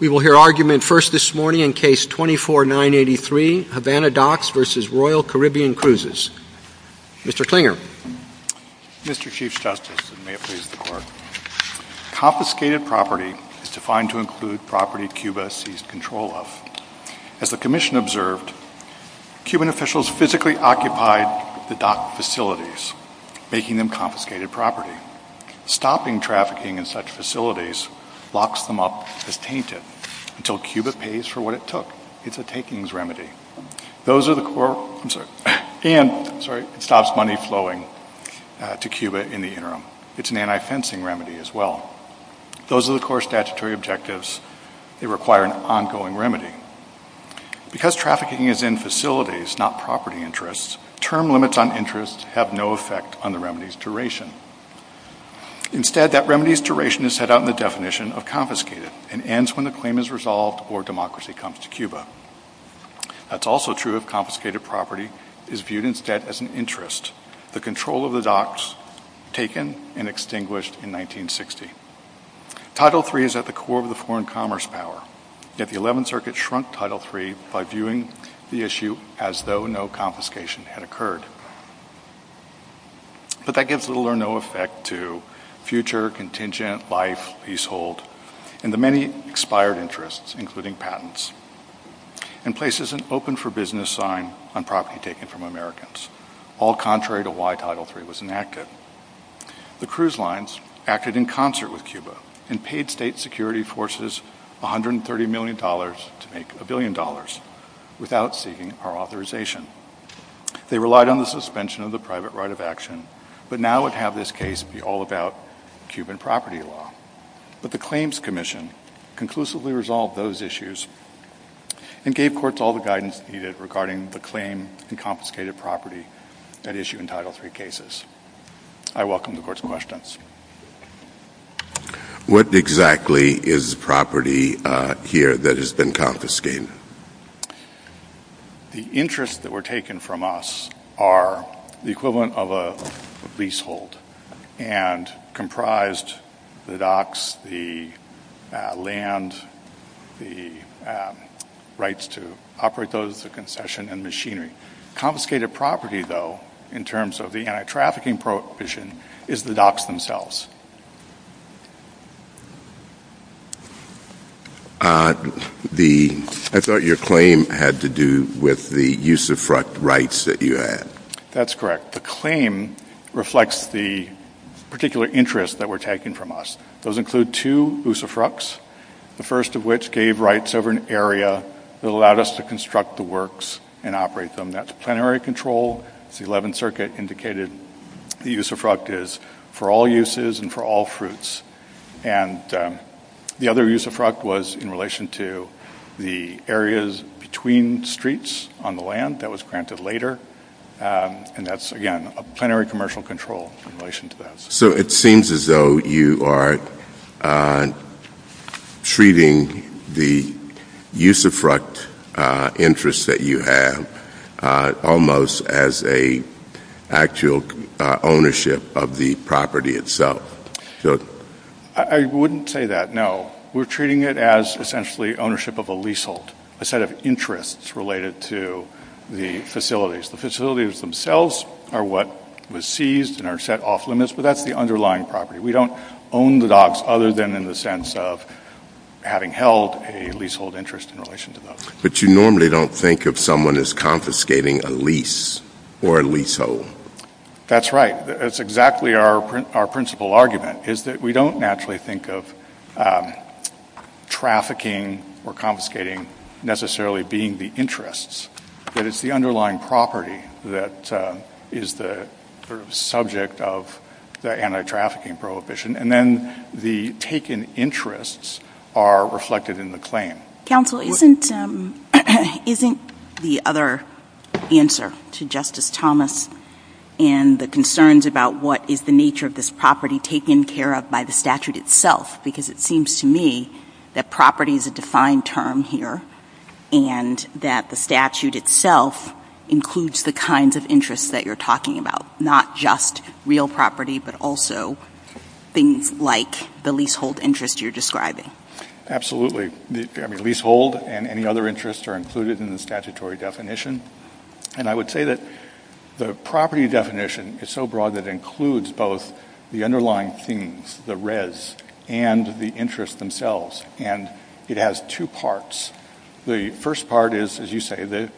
We will hear argument first this morning in Case 24-983, Havana Docks v. Royal Caribbean Cruises. Mr. Klinger. Mr. Chief Justice, and may it please the Court. Confiscated property is defined to include property Cuba seized control of. As the Commission observed, Cuban officials physically occupied the dock facilities, making them confiscated property. Stopping trafficking in such facilities locks them up as painted until Cuba pays for what it took. It's a takings remedy. And it stops money flowing to Cuba in the interim. It's an anti-fencing remedy as well. Those are the core statutory objectives. They require an ongoing remedy. Because trafficking is in facilities, not property interests, term limits on interests have no effect on the remedy's duration. Instead, that remedy's duration is set out in the definition of confiscated, and ends when the claim is resolved or democracy comes to Cuba. That's also true if confiscated property is viewed instead as an interest, the control of the docks taken and extinguished in 1960. Title III is at the core of the foreign commerce power. Yet the Eleventh Circuit shrunk Title III by viewing the issue as though no confiscation had occurred. But that gives little or no effect to future contingent life, leasehold, and the many expired interests, including patents. And place is an open-for-business sign on property taken from Americans, all contrary to why Title III was enacted. The cruise lines acted in concert with Cuba, and paid state security forces $130 million to make $1 billion without seeking our authorization. They relied on the suspension of the private right of action, but now would have this case be all about Cuban property law. But the Claims Commission conclusively resolved those issues and gave courts all the guidance needed regarding the claim and confiscated property that issue in Title III cases. I welcome the court's questions. What exactly is property here that has been confiscated? The interests that were taken from us are the equivalent of a leasehold, and comprised the docks, the land, the rights to operate those, the concession, and machinery. Confiscated property, though, in terms of the anti-trafficking provision, is the docks themselves. I thought your claim had to do with the use-of-fruct rights that you had. That's correct. The claim reflects the particular interests that were taken from us. Those include two use-of-fructs, the first of which gave rights over an area that allowed us to construct the works and operate them. That's plenary control. The 11th Circuit indicated the use-of-fruct is for all uses and for all fruits. And the other use-of-fruct was in relation to the areas between streets on the land that was granted later. And that's, again, a plenary commercial control in relation to that. So it seems as though you are treating the use-of-fruct interests that you have almost as an actual ownership of the property itself. I wouldn't say that, no. We're treating it as, essentially, ownership of a leasehold, a set of interests related to the facilities. The facilities themselves are what was seized and are set off limits, but that's the underlying property. We don't own the docks other than in the sense of having held a leasehold interest in relation to those. But you normally don't think of someone as confiscating a lease or a leasehold. That's right. That's exactly our principal argument, is that we don't naturally think of trafficking or confiscating necessarily being the interests. But it's the underlying property that is the subject of the anti-trafficking prohibition. And then the taken interests are reflected in the claim. Counsel, isn't the other answer to Justice Thomas and the concerns about what is the nature of this property taken care of by the statute itself? Because it seems to me that property is a defined term here and that the statute itself includes the kinds of interests that you're talking about, not just real property but also things like the leasehold interest you're describing. Absolutely. The leasehold and any other interests are included in the statutory definition. And I would say that the property definition is so broad that it includes both the underlying things, the res, and the interests themselves. And it has two parts. The first part is, as you say, the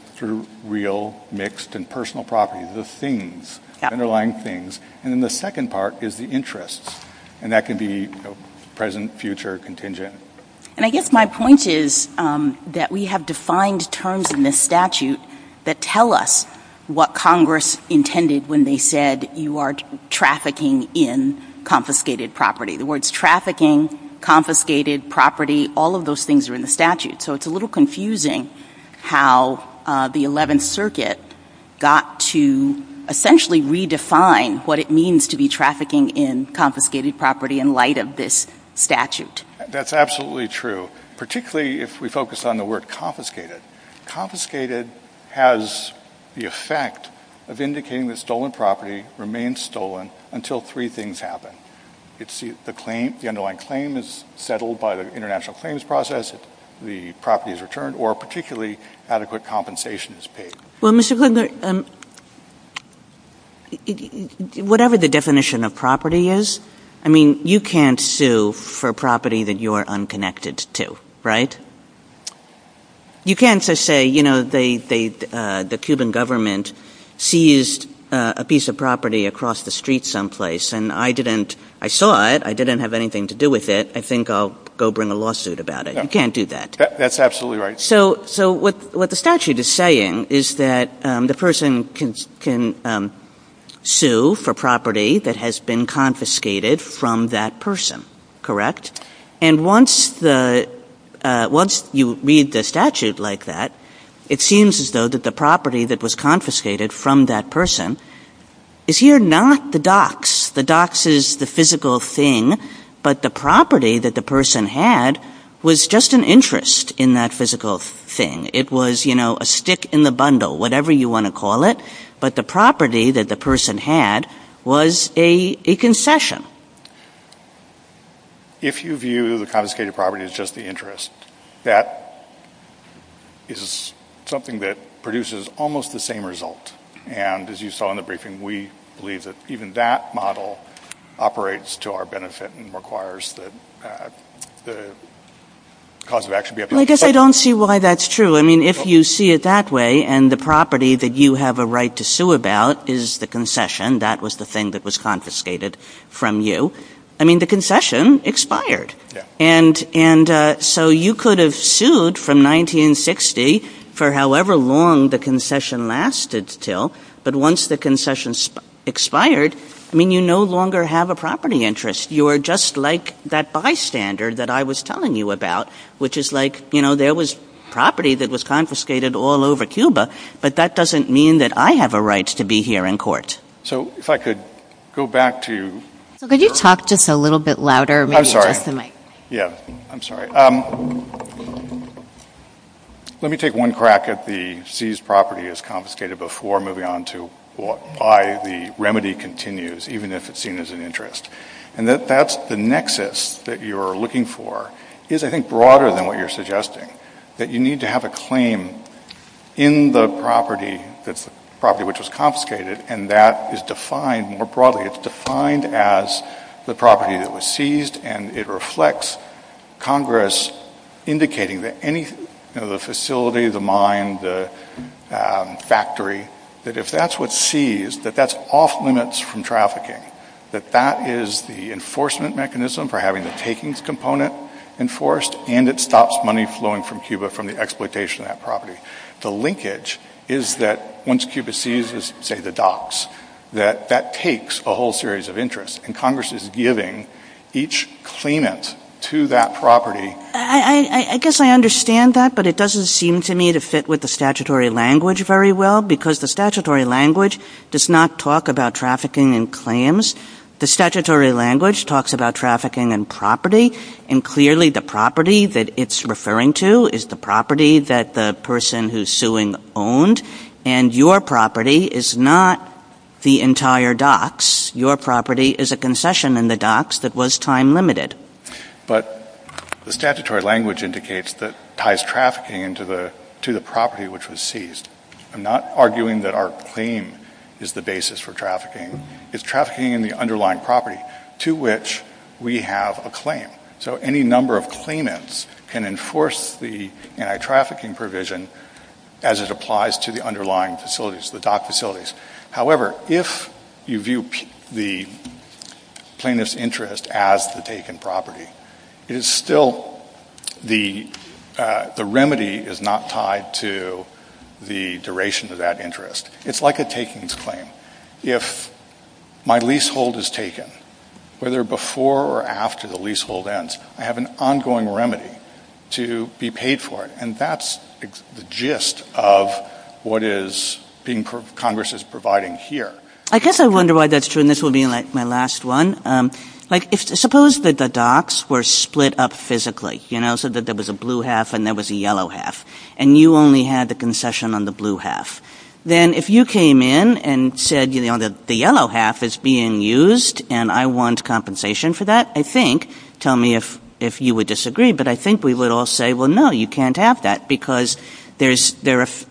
real, mixed, and personal property, the things, the underlying things. And then the second part is the interests. And that could be present, future, contingent. And I guess my point is that we have defined terms in this statute that tell us what Congress intended when they said you are trafficking in confiscated property. The words trafficking, confiscated property, all of those things are in the statute. So it's a little confusing how the 11th Circuit got to essentially redefine what it means to be trafficking in confiscated property in light of this statute. That's absolutely true, particularly if we focus on the word confiscated. Confiscated has the effect of indicating that stolen property remains stolen until three things happen. It's the claim, the underlying claim is settled by the international claims process, the property is returned, or particularly adequate compensation is paid. Well, Mr. Grinder, whatever the definition of property is, I mean, you can't sue for property that you're unconnected to, right? You can't just say, you know, the Cuban government seized a piece of property across the street someplace, and I saw it, I didn't have anything to do with it, I think I'll go bring a lawsuit about it. You can't do that. That's absolutely right. So what the statute is saying is that the person can sue for property that has been confiscated from that person, correct? And once you read the statute like that, it seems as though that the property that was confiscated from that person is here not the docks, the docks is the physical thing, but the property that the person had was just an interest in that physical thing. It was, you know, a stick in the bundle, whatever you want to call it, but the property that the person had was a concession. If you view the confiscated property as just the interest, that is something that produces almost the same result. And as you saw in the briefing, we believe that even that model operates to our benefit and requires that the cause of action be upheld. I guess I don't see why that's true. I mean, if you see it that way and the property that you have a right to sue about is the concession, that was the thing that was confiscated from you, I mean, the concession expired. And so you could have sued from 1960 for however long the concession lasted until, but once the concession expired, I mean, you no longer have a property interest. You are just like that bystander that I was telling you about, which is like, you know, there was property that was confiscated all over Cuba, but that doesn't mean that I have a right to be here in court. So if I could go back to... Could you talk just a little bit louder? I'm sorry. Yeah, I'm sorry. Let me take one crack at the seized property as confiscated before moving on to why the remedy continues, even if it's seen as an interest. And that's the nexus that you're looking for is, I think, broader than what you're suggesting, that you need to have a claim in the property, the property which was confiscated, and that is defined more broadly. It's defined as the property that was seized, and it reflects Congress indicating that any facility, the mine, the factory, that if that's what's seized, that that's off-limits from trafficking, that that is the enforcement mechanism for having the takings component enforced, and it stops money flowing from Cuba from the exploitation of that property. The linkage is that once Cuba seizes, say, the docks, that that takes a whole series of interest, and Congress is giving each claimant to that property. I guess I understand that, but it doesn't seem to me to fit with the statutory language very well, because the statutory language does not talk about trafficking in claims. The statutory language talks about trafficking in property, and clearly the property that it's referring to is the property that the person who's suing owned, and your property is not the entire docks. Your property is a concession in the docks that was time-limited. But the statutory language indicates that it ties trafficking to the property which was seized. I'm not arguing that our claim is the basis for trafficking. It's trafficking in the underlying property to which we have a claim, so any number of claimants can enforce the anti-trafficking provision as it applies to the underlying facilities, the dock facilities. However, if you view the plaintiff's interest as the taken property, the remedy is not tied to the duration of that interest. It's like a takings claim. If my leasehold is taken, whether before or after the leasehold ends, I have an ongoing remedy to be paid for, and that's the gist of what Congress is providing here. I guess I wonder why that's true, and this will be my last one. Suppose that the docks were split up physically, so there was a blue half and there was a yellow half, and you only had the concession on the blue half. Then if you came in and said the yellow half is being used and I want compensation for that, tell me if you would disagree, but I think we would all say, no, you can't have that because there's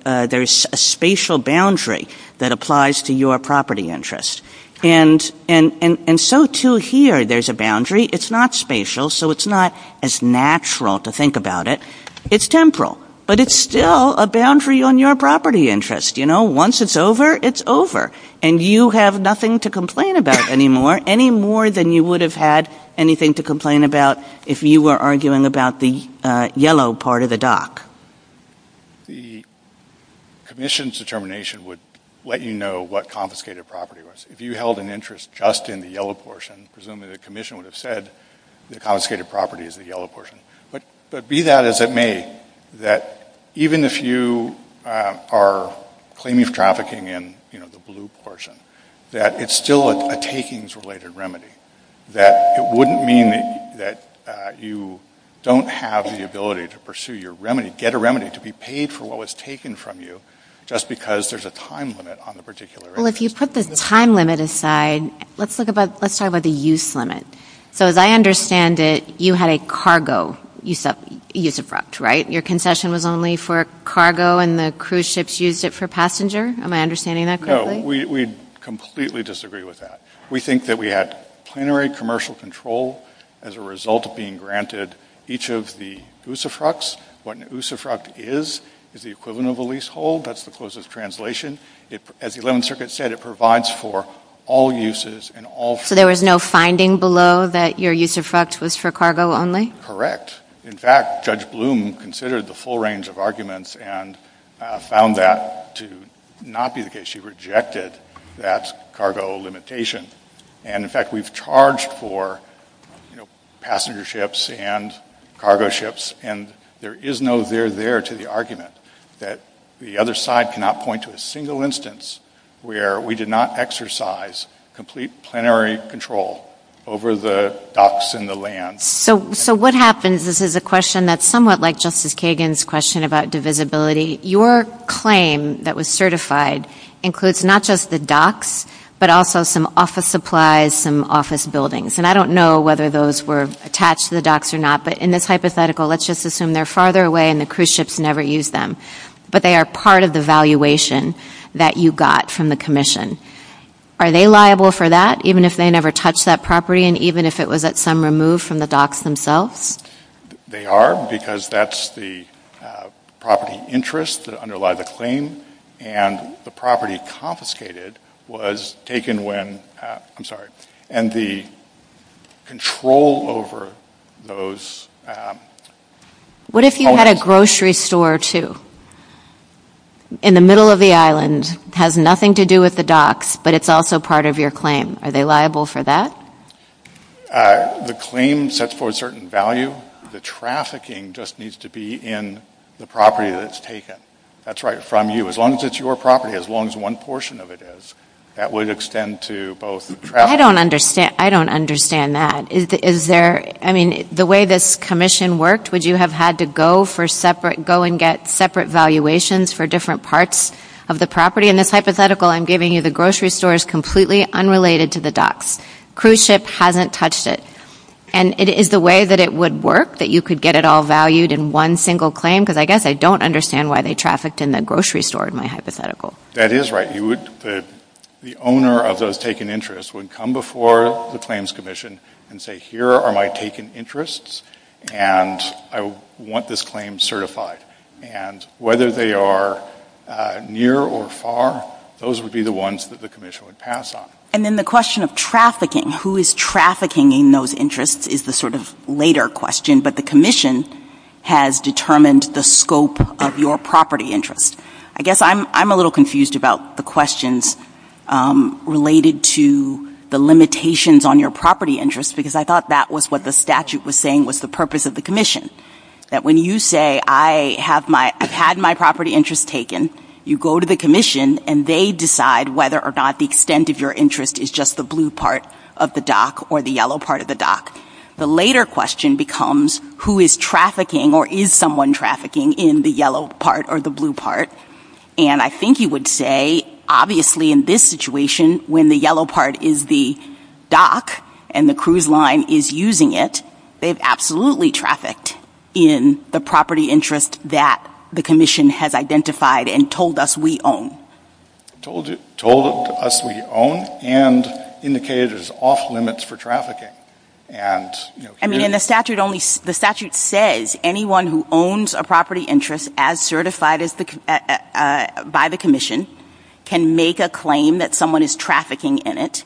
a spatial boundary that applies to your property interest. So, too, here there's a boundary. It's not spatial, so it's not as natural to think about it. It's temporal, but it's still a boundary on your property interest. Once it's over, it's over, and you have nothing to complain about anymore, any more than you would have had anything to complain about if you were arguing about the yellow part of the dock. The commission's determination would let you know what confiscated property was. If you held an interest just in the yellow portion, presumably the commission would have said the confiscated property is the yellow portion, but be that as it may, that even if you are claiming trafficking in the blue portion, that it's still a takings-related remedy. It wouldn't mean that you don't have the ability to pursue your remedy, get a remedy, to be paid for what was taken from you just because there's a time limit on the particular interest. Well, if you put the time limit aside, let's talk about the use limit. So, as I understand it, you had a cargo use-abrupt, right? Your concession was only for cargo and the cruise ships used it for passenger? Am I understanding that correctly? No, we completely disagree with that. We think that we had plenary commercial control as a result of being granted each of the USFRUCs. What an USFRUC is is the equivalent of a leasehold. That's the closest translation. As the 11th Circuit said, it provides for all uses and all... So there was no finding below that your USFRUC was for cargo only? Correct. In fact, Judge Bloom considered the full range of arguments and found that to not be the case. She rejected that cargo limitation. And, in fact, we've charged for passenger ships and cargo ships. And there is no there there to the argument that the other side cannot point to a single instance where we did not exercise complete plenary control over the docks and the land. So what happens? This is a question that's somewhat like Justice Kagan's question about divisibility. Your claim that was certified includes not just the docks but also some office supplies, some office buildings. And I don't know whether those were attached to the docks or not. But in this hypothetical, let's just assume they're farther away and the cruise ships never used them. But they are part of the valuation that you got from the commission. Are they liable for that even if they never touched that property and even if it was at some removed from the docks themselves? They are because that's the property interest that underlies the claim. And the property confiscated was taken when... I'm sorry. And the control over those... What if you had a grocery store too? In the middle of the island, has nothing to do with the docks, but it's also part of your claim. Are they liable for that? The claim sets forth certain value. The trafficking just needs to be in the property that it's taken. That's right from you. As long as it's your property, as long as one portion of it is, that would extend to both... I don't understand that. The way this commission worked, would you have had to go and get separate valuations for different parts of the property? In this hypothetical, I'm giving you the grocery store is completely unrelated to the docks. Cruise ship hasn't touched it. And is the way that it would work that you could get it all valued in one single claim? Because I guess I don't understand why they trafficked in the grocery store in my hypothetical. That is right. The owner of those taken interests would come before the claims commission and say, here are my taken interests, and I want this claim certified. And whether they are near or far, those would be the ones that the commission would pass on. And then the question of trafficking, who is trafficking in those interests, is the sort of later question. But the commission has determined the scope of your property interest. I guess I'm a little confused about the questions related to the limitations on your property interest, because I thought that was what the statute was saying was the purpose of the commission. That when you say, I've had my property interest taken, you go to the commission, and they decide whether or not the extent of your interest is just the blue part of the dock or the yellow part of the dock. The later question becomes, who is trafficking or is someone trafficking in the yellow part or the blue part? And I think you would say, obviously in this situation, when the yellow part is the dock and the cruise line is using it, they've absolutely trafficked in the property interest that the commission has identified and told us we own. Told us we own and indicated it is off limits for trafficking. I mean, the statute says anyone who owns a property interest as certified by the commission can make a claim that someone is trafficking in it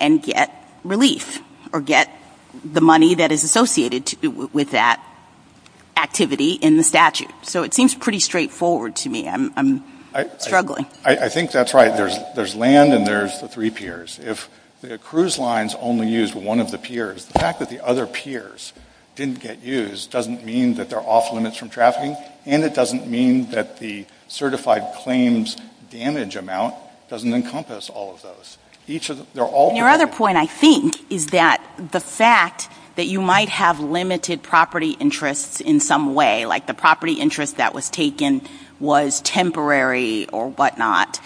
and get relief or get the money that is associated with that activity in the statute. So it seems pretty straightforward to me. I'm struggling. I think that's right. There's land and there's the three peers. If the cruise lines only use one of the peers, the fact that the other peers didn't get used doesn't mean that they're off limits from trafficking, and it doesn't mean that the certified claims damage amount doesn't encompass all of those. Your other point, I think, is that the fact that you might have limited property interests in some way, like the property interest that was taken was temporary or whatnot,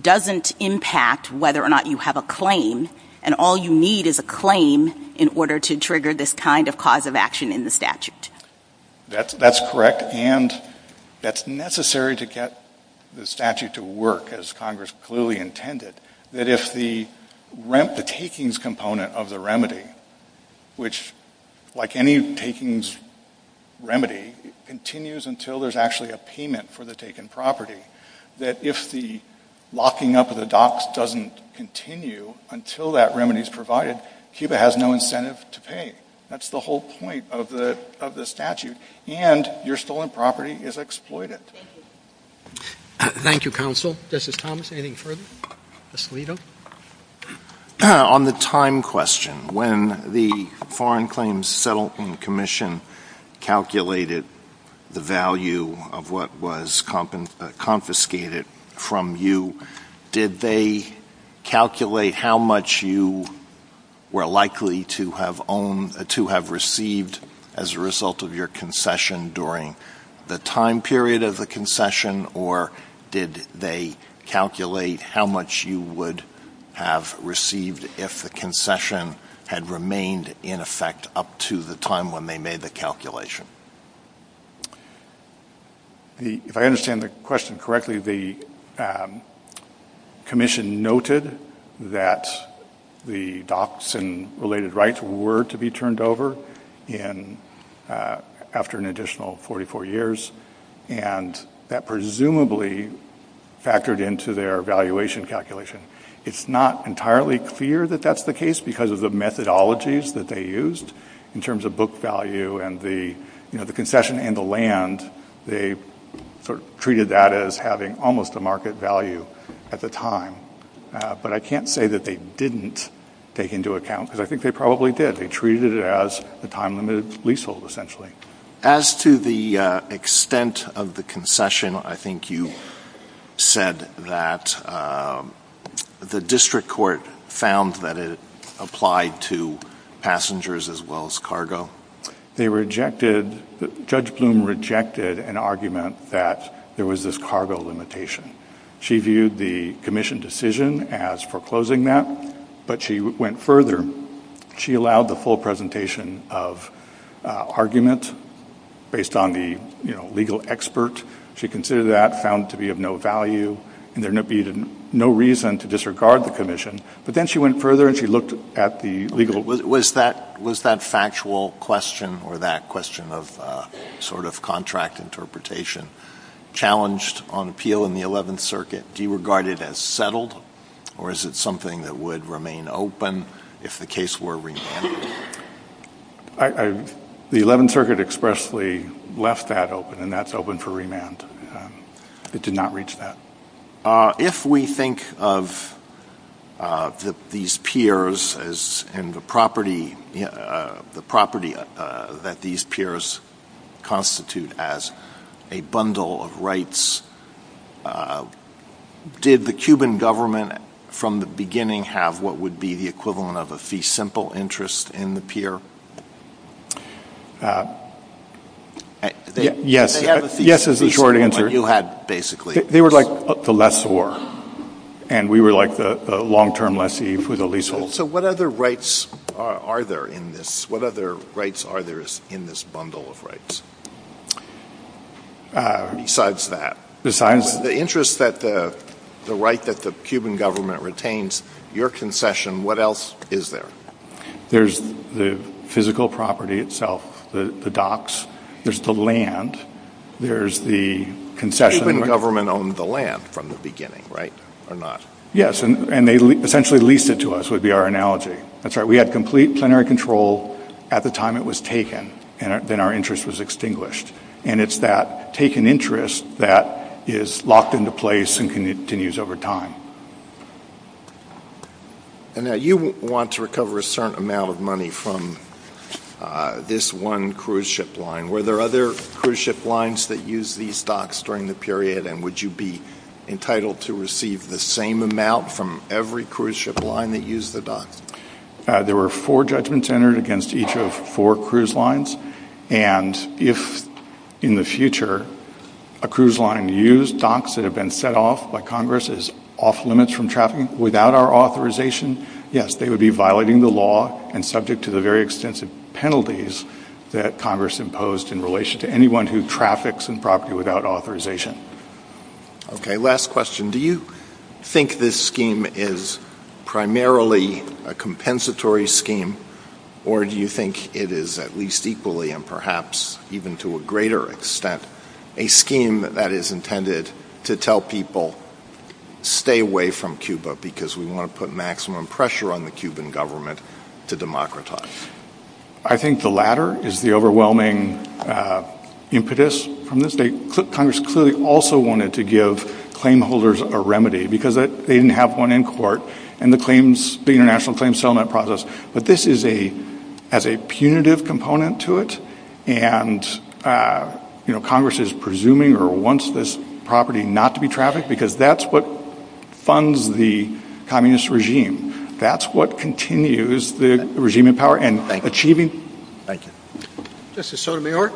doesn't impact whether or not you have a claim, and all you need is a claim in order to trigger this kind of cause of action in the statute. That's correct, and that's necessary to get the statute to work, as Congress clearly intended, that if the rent, the takings component of the remedy, which, like any takings remedy, continues until there's actually a payment for the taken property, that if the locking up of the docks doesn't continue until that remedy is provided, CUBA has no incentive to pay. That's the whole point of the statute, and your stolen property is exploited. Thank you, Counsel. Justice Thomas, anything further? On the time question, when the Foreign Claims Settlement Commission calculated the value of what was confiscated from you, did they calculate how much you were likely to have received as a result of your concession during the time period of the concession, or did they calculate how much you would have received if the concession had remained, in effect, up to the time when they made the calculation? If I understand the question correctly, the commission noted that the docks and related rights were to be turned over after an additional 44 years, and that presumably factored into their valuation calculation. It's not entirely clear that that's the case because of the methodologies that they used in terms of book value and the concession and the land. They treated that as having almost a market value at the time. But I can't say that they didn't take into account, because I think they probably did. They treated it as a time-limited leasehold, essentially. As to the extent of the concession, I think you said that the district court found that it applied to passengers as well as cargo. Judge Bloom rejected an argument that there was this cargo limitation. She viewed the commission decision as foreclosing that, but she went further. She allowed the full presentation of argument based on the legal expert. She considered that found to be of no value, and there would be no reason to disregard the commission. Was that factual question or that question of sort of contract interpretation challenged on appeal in the 11th Circuit? Do you regard it as settled, or is it something that would remain open if the case were remanded? The 11th Circuit expressly left that open, and that's open for remand. It did not reach that. If we think of these piers and the property that these piers constitute as a bundle of rights, did the Cuban government from the beginning have what would be the equivalent of a fee simple interest in the pier? Yes, is the short answer. They were like the lessor, and we were like the long-term lessee for the leasehold. So what other rights are there in this bundle of rights? Besides that, the interest that the right that the Cuban government retains, your concession, what else is there? There's the physical property itself, the docks. There's the land. There's the concession. The Cuban government owned the land from the beginning, right, or not? Yes, and they essentially leased it to us, would be our analogy. That's right. We had complete plenary control at the time it was taken, and then our interest was extinguished. And it's that taken interest that is locked into place and continues over time. And now you want to recover a certain amount of money from this one cruise ship line. Were there other cruise ship lines that used these docks during the period, and would you be entitled to receive the same amount from every cruise ship line that used the docks? There were four judgments entered against each of four cruise lines, and if in the future a cruise line used docks that had been set off by Congress as off-limits from traffic without our authorization, yes, they would be violating the law and subject to the very extensive penalties that Congress imposed in relation to anyone who traffics in property without authorization. Okay, last question. Do you think this scheme is primarily a compensatory scheme, or do you think it is at least equally and perhaps even to a greater extent a scheme that is intended to tell people, stay away from Cuba because we want to put maximum pressure on the Cuban government to democratize? I think the latter is the overwhelming impetus. Congress clearly also wanted to give claim holders a remedy because they didn't have one in court, and the international claims settlement process. But this has a punitive component to it, and Congress is presuming or wants this property not to be trafficked because that's what funds the communist regime. That's what continues the regime in power in achieving. Thank you. Justice Sotomayor?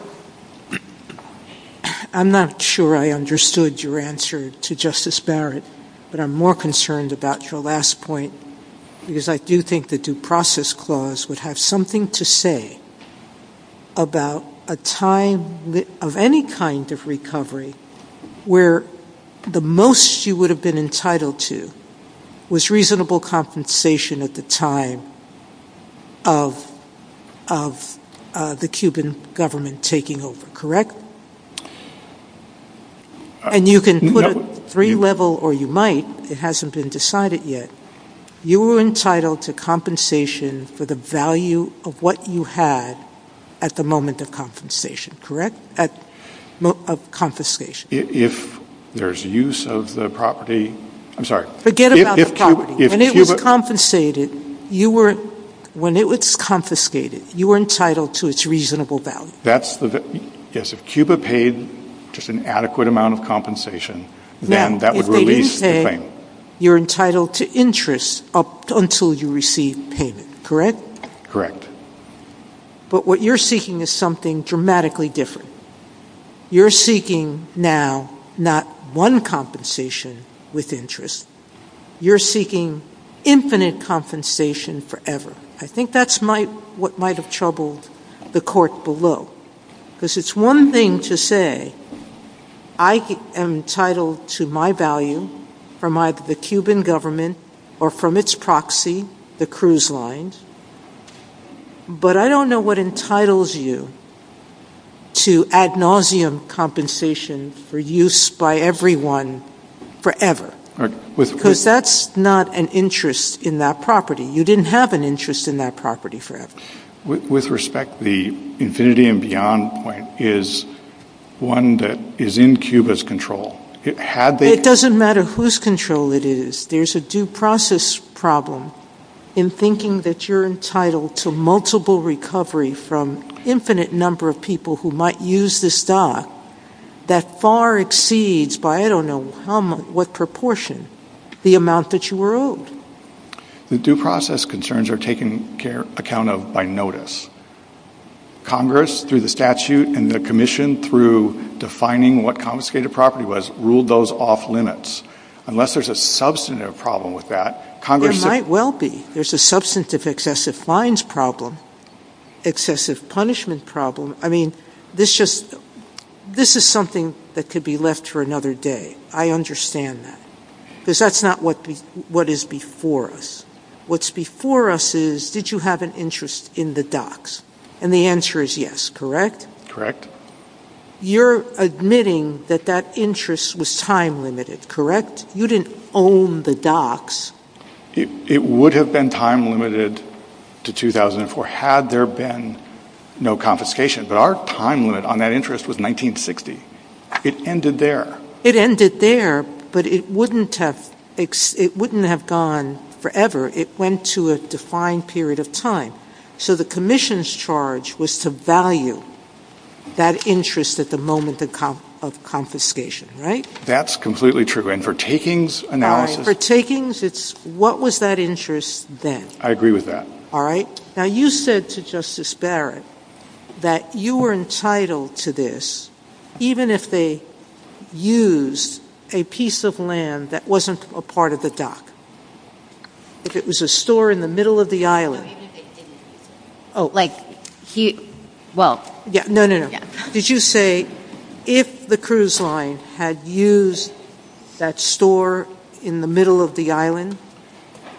I'm not sure I understood your answer to Justice Barrett, but I'm more concerned about your last point because I do think the Due Process Clause would have something to say about a time of any kind of recovery where the most you would have been entitled to was reasonable compensation at the time of the Cuban government taking over, correct? And you can put a three level or you might, it hasn't been decided yet. You were entitled to compensation for the value of what you had at the moment of confiscation, correct? If there's use of the property, I'm sorry. Forget about the property. When it was confiscated, you were entitled to its reasonable value. Yes, if Cuba paid just an adequate amount of compensation, then that would release the claim. You're entitled to interest up until you receive payment, correct? Correct. But what you're seeking is something dramatically different. You're seeking now not one compensation with interest. You're seeking infinite compensation forever. I think that's what might have troubled the court below because it's one thing to say, I am entitled to my value from the Cuban government or from its proxy, the cruise lines, but I don't know what entitles you to ad nauseum compensation for use by everyone forever. Because that's not an interest in that property. You didn't have an interest in that property forever. With respect, the infinity and beyond point is one that is in Cuba's control. It doesn't matter whose control it is. There's a due process problem in thinking that you're entitled to multiple recovery from infinite number of people who might use this dock that far exceeds, by I don't know what proportion, the amount that you were owed. The due process concerns are taken account of by notice. Congress, through the statute and the commission, through defining what confiscated property was, ruled those off limits. Unless there's a substantive problem with that. There might well be. There's a substantive excessive fines problem, excessive punishment problem. I mean, this is something that could be left for another day. I understand that. Because that's not what is before us. What's before us is, did you have an interest in the docks? And the answer is yes, correct? Correct. You're admitting that that interest was time limited, correct? You didn't own the docks. It would have been time limited to 2004 had there been no confiscation. But our time limit on that interest was 1960. It ended there. It ended there, but it wouldn't have gone forever. It went to a defined period of time. So the commission's charge was to value that interest at the moment of confiscation, right? That's completely true. And for takings analysis? For takings, it's what was that interest then? I agree with that. All right. Now, you said to Justice Barrett that you were entitled to this, even if they used a piece of land that wasn't a part of the dock. If it was a store in the middle of the island. Did you say if the cruise line had used that store in the middle of the island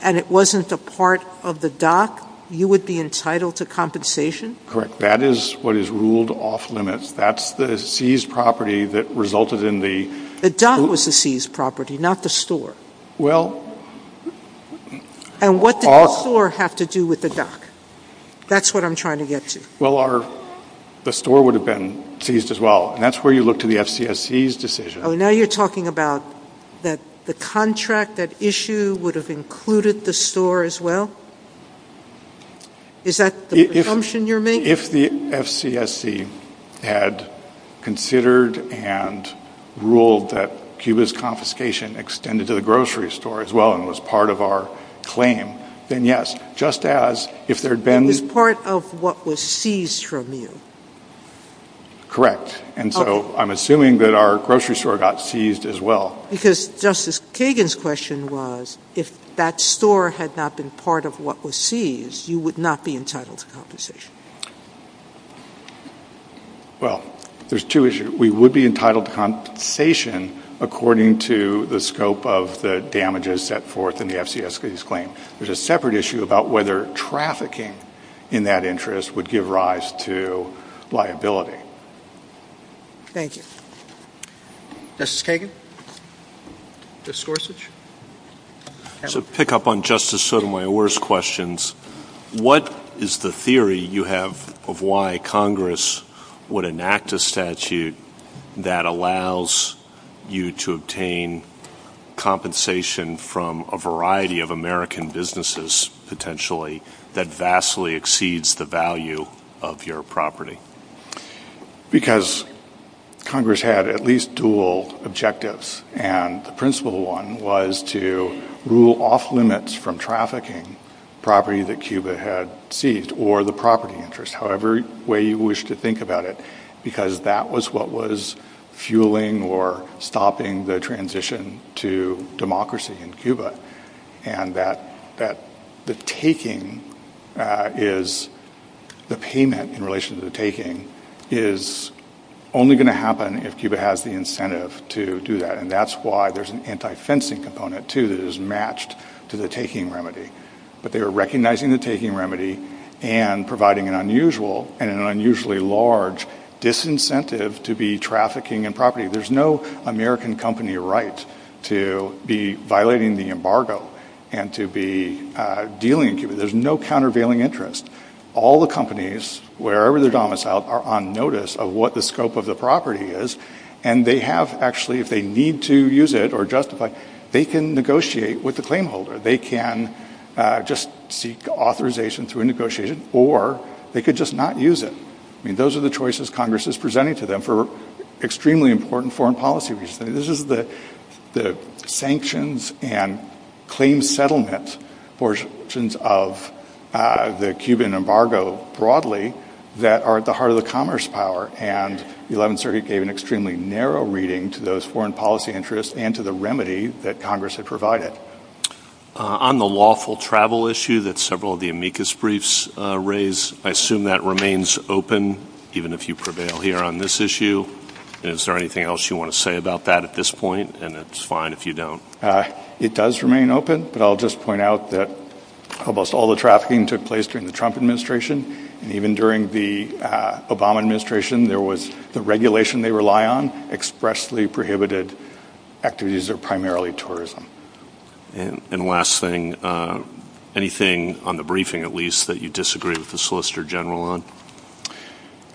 and it wasn't a part of the dock, you would be entitled to compensation? Correct. That is what is ruled off limits. That's the seized property that resulted in the The dock was the seized property, not the store. And what did the store have to do with the dock? That's what I'm trying to get to. Well, the store would have been seized as well, and that's where you look to the FCSC's decision. Oh, now you're talking about that the contract, that issue, would have included the store as well? Is that the assumption you're making? If the FCSC had considered and ruled that Cuba's confiscation extended to the grocery store as well and was part of our claim, then yes, just as if there had been It was part of what was seized from you. Correct. And so I'm assuming that our grocery store got seized as well. Because Justice Kagan's question was, if that store had not been part of what was seized, you would not be entitled to compensation. Well, there's two issues. We would be entitled to compensation according to the scope of the damages that forth in the FCSC's claim. There's a separate issue about whether trafficking in that interest would give rise to liability. Thank you. Justice Kagan? Justice Gorsuch? To pick up on Justice Sotomayor's questions, what is the theory you have of why Congress would enact a statute that allows you to obtain compensation from a variety of American businesses, potentially, that vastly exceeds the value of your property? Because Congress had at least dual objectives, and the principal one was to rule off limits from trafficking property that Cuba had seized, or the property interest, however way you wish to think about it, because that was what was fueling or stopping the transition to democracy in Cuba. And that the payment in relation to the taking is only going to happen if Cuba has the incentive to do that. And that's why there's an anti-fencing component, too, that is matched to the taking remedy. But they were recognizing the taking remedy and providing an unusually large disincentive to be trafficking in property. There's no American company right to be violating the embargo and to be dealing in Cuba. There's no countervailing interest. All the companies, wherever they're domiciled, are on notice of what the scope of the property is, and they have actually, if they need to use it or justify it, they can negotiate with the claim holder. They can just seek authorization through a negotiation, or they could just not use it. I mean, those are the choices Congress is presenting to them for extremely important foreign policy reasons. This is the sanctions and claim settlement portions of the Cuban embargo broadly that are at the heart of the commerce power, and the 11th Circuit gave an extremely narrow reading to those foreign policy interests and to the remedy that Congress had provided. On the lawful travel issue that several of the amicus briefs raised, I assume that remains open, even if you prevail here on this issue. Is there anything else you want to say about that at this point? And it's fine if you don't. It does remain open, but I'll just point out that almost all the trafficking took place during the Trump administration, and even during the Obama administration, there was the regulation they rely on, expressly prohibited activities that are primarily tourism. And last thing, anything on the briefing, at least, that you disagree with the Solicitor General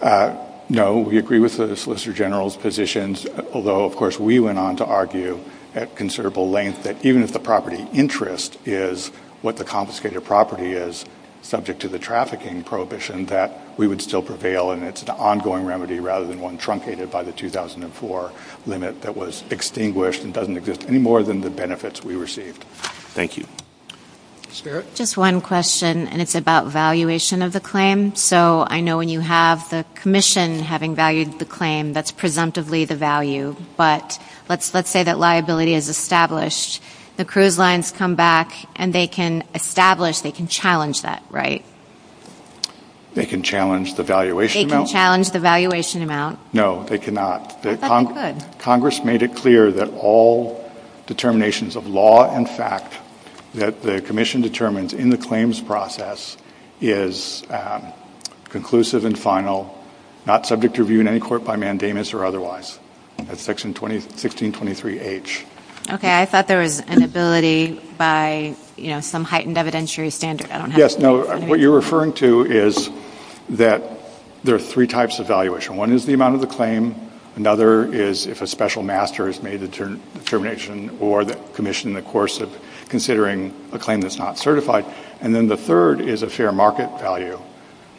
on? No, we agree with the Solicitor General's positions, although, of course, we went on to argue at considerable length that even if the property interest is what the confiscated property is, subject to the trafficking prohibition, that we would still prevail, and it's an ongoing remedy rather than one truncated by the 2004 limit that was extinguished and doesn't exist anymore than the benefits we received. Thank you. Just one question, and it's about valuation of the claim. So I know when you have the commission having valued the claim, that's presumptively the value, but let's say that liability is established. The cruise lines come back, and they can establish, they can challenge that right. They can challenge the valuation amount? They can challenge the valuation amount. No, they cannot. I thought they could. Congress made it clear that all determinations of law and fact that the commission determines in the claims process is conclusive and final, not subject to review in any court by mandamus or otherwise. That's Section 1623H. Okay, I thought there was an ability by, you know, some heightened evidentiary standard. Yes, no, what you're referring to is that there are three types of valuation. One is the amount of the claim. Another is if a special master has made a determination or the commission in the course of considering a claim that's not certified. And then the third is a fair market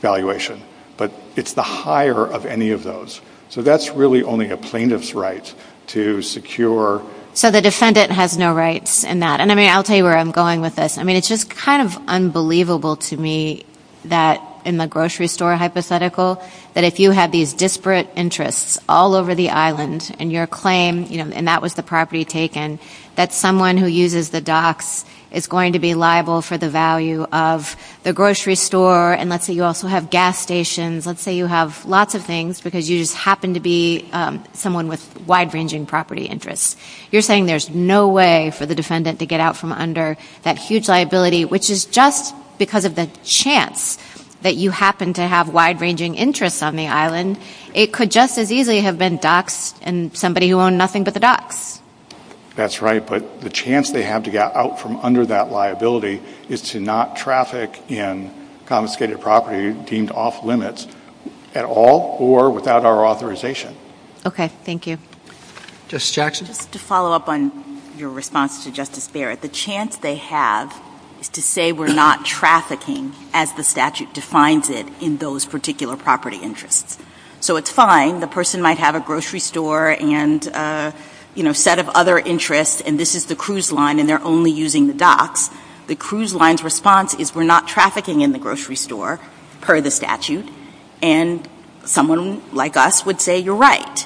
valuation, but it's the higher of any of those. So that's really only a plaintiff's right to secure... So the defendant has no rights in that. And, I mean, I'll tell you where I'm going with this. I mean, it's just kind of unbelievable to me that in the grocery store hypothetical that if you have these disparate interests all over the island and your claim, you know, and that was the property taken, that someone who uses the docks is going to be liable for the value of the grocery store and let's say you also have gas stations, let's say you have lots of things because you just happen to be someone with wide-ranging property interests. You're saying there's no way for the defendant to get out from under that huge liability, which is just because of the chance that you happen to have wide-ranging interests on the island. It could just as easily have been docks and somebody who owned nothing but the docks. That's right, but the chance they have to get out from under that liability is to not traffic in confiscated property deemed off-limits at all or without our authorization. Okay, thank you. Justice Jackson? To follow up on your response to Justice Barrett, the chance they have to say we're not trafficking as the statute defines it in those particular property interests. So it's fine. The person might have a grocery store and a set of other interests and this is the cruise line and they're only using the docks. The cruise line's response is we're not trafficking in the grocery store per the statute and someone like us would say you're right.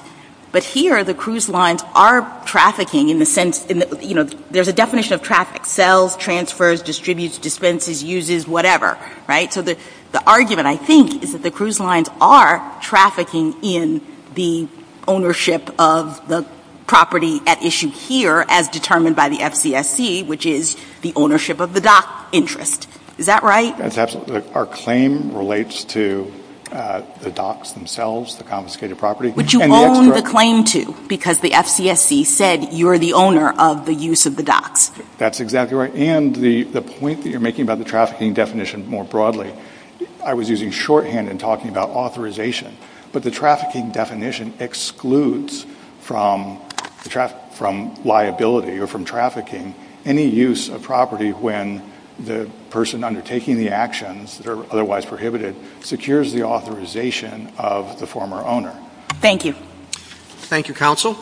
But here the cruise lines are trafficking in the sense there's a definition of traffic, sells, transfers, distributes, dispenses, uses, whatever. So the argument I think is that the cruise lines are trafficking in the ownership of the property at issue here as determined by the FCSC, which is the ownership of the dock interest. Is that right? Our claim relates to the docks themselves, the confiscated property. But you own the claim to because the FCSC said you're the owner of the use of the docks. That's exactly right. And the point that you're making about the trafficking definition more broadly, I was using shorthand in talking about authorization. But the trafficking definition excludes from liability or from trafficking any use of property when the person undertaking the actions that are otherwise prohibited secures the authorization of the former owner. Thank you. Thank you, Counsel.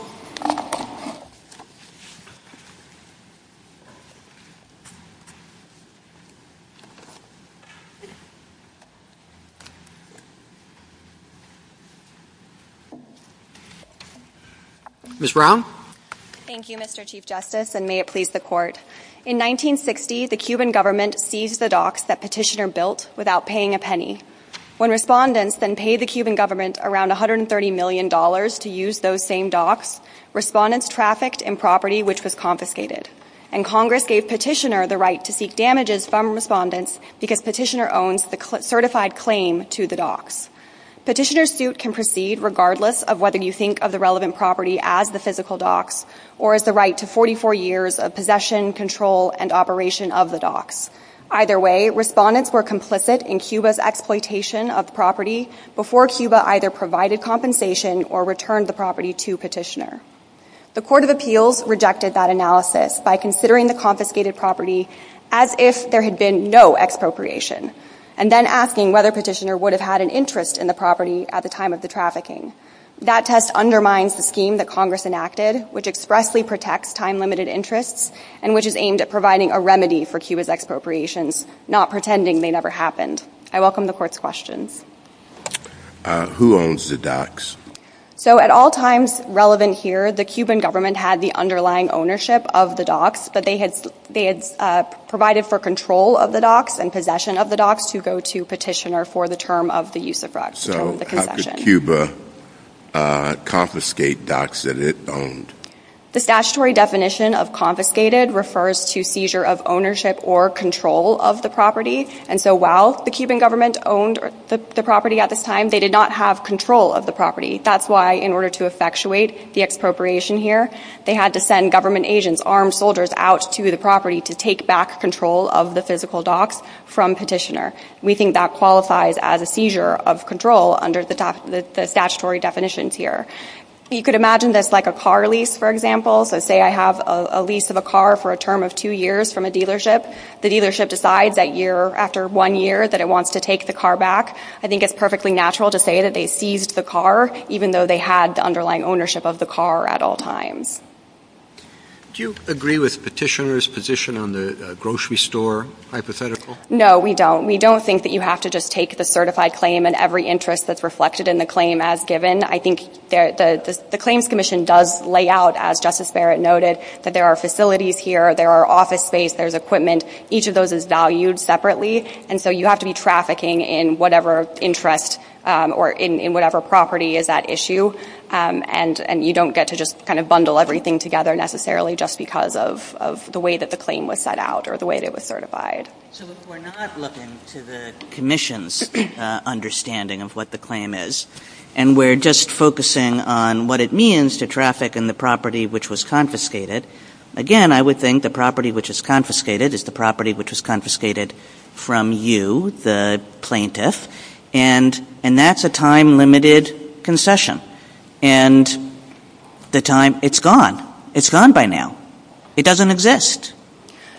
Ms. Brown. Thank you, Mr. Chief Justice, and may it please the Court. In 1960, the Cuban government seized the docks that Petitioner built without paying a penny. When respondents then paid the Cuban government around $130 million to use those same docks, respondents trafficked in property which was confiscated. And Congress gave Petitioner the right to seek damages from respondents because Petitioner owns the certified claim to the docks. Petitioner's suit can proceed regardless of whether you think of the relevant property as the physical docks or as the right to 44 years of possession, control, and operation of the docks. Either way, respondents were complicit in Cuba's exploitation of property before Cuba either provided compensation or returned the property to Petitioner. The Court of Appeals rejected that analysis by considering the confiscated property as if there had been no expropriation and then asking whether Petitioner would have had an interest in the property at the time of the trafficking. That test undermines the scheme that Congress enacted, which expressly protects time-limited interests and which is aimed at providing a remedy for Cuba's expropriations, not pretending they never happened. I welcome the Court's questions. Who owns the docks? So at all times relevant here, the Cuban government had the underlying ownership of the docks, but they had provided for control of the docks and possession of the docks to go to Petitioner for the term of the use of the docks. So how could Cuba confiscate docks that it owned? The statutory definition of confiscated refers to seizure of ownership or control of the property. And so while the Cuban government owned the property at this time, they did not have control of the property. That's why in order to effectuate the expropriation here, they had to send government agents, armed soldiers, out to the property to take back control of the physical docks from Petitioner. We think that qualifies as a seizure of control under the statutory definitions here. You could imagine this like a car lease, for example. So say I have a lease of a car for a term of two years from a dealership. The dealership decides that year, after one year, that it wants to take the car back. I think it's perfectly natural to say that they seized the car, even though they had the underlying ownership of the car at all times. Do you agree with Petitioner's position on the grocery store hypothetical? No, we don't. We don't think that you have to just take the certified claim and every interest that's reflected in the claim as given. I think the Claims Commission does lay out, as Justice Barrett noted, that there are facilities here, there are office space, there's equipment. Each of those is valued separately, and so you have to be trafficking in whatever interest or in whatever property is at issue, and you don't get to just kind of bundle everything together necessarily just because of the way that the claim was set out or the way that it was certified. So we're not looking to the Commission's understanding of what the claim is, and we're just focusing on what it means to traffic in the property which was confiscated. Again, I would think the property which was confiscated is the property which was confiscated from you, the plaintiff, and that's a time-limited concession. And the time, it's gone. It's gone by now. It doesn't exist.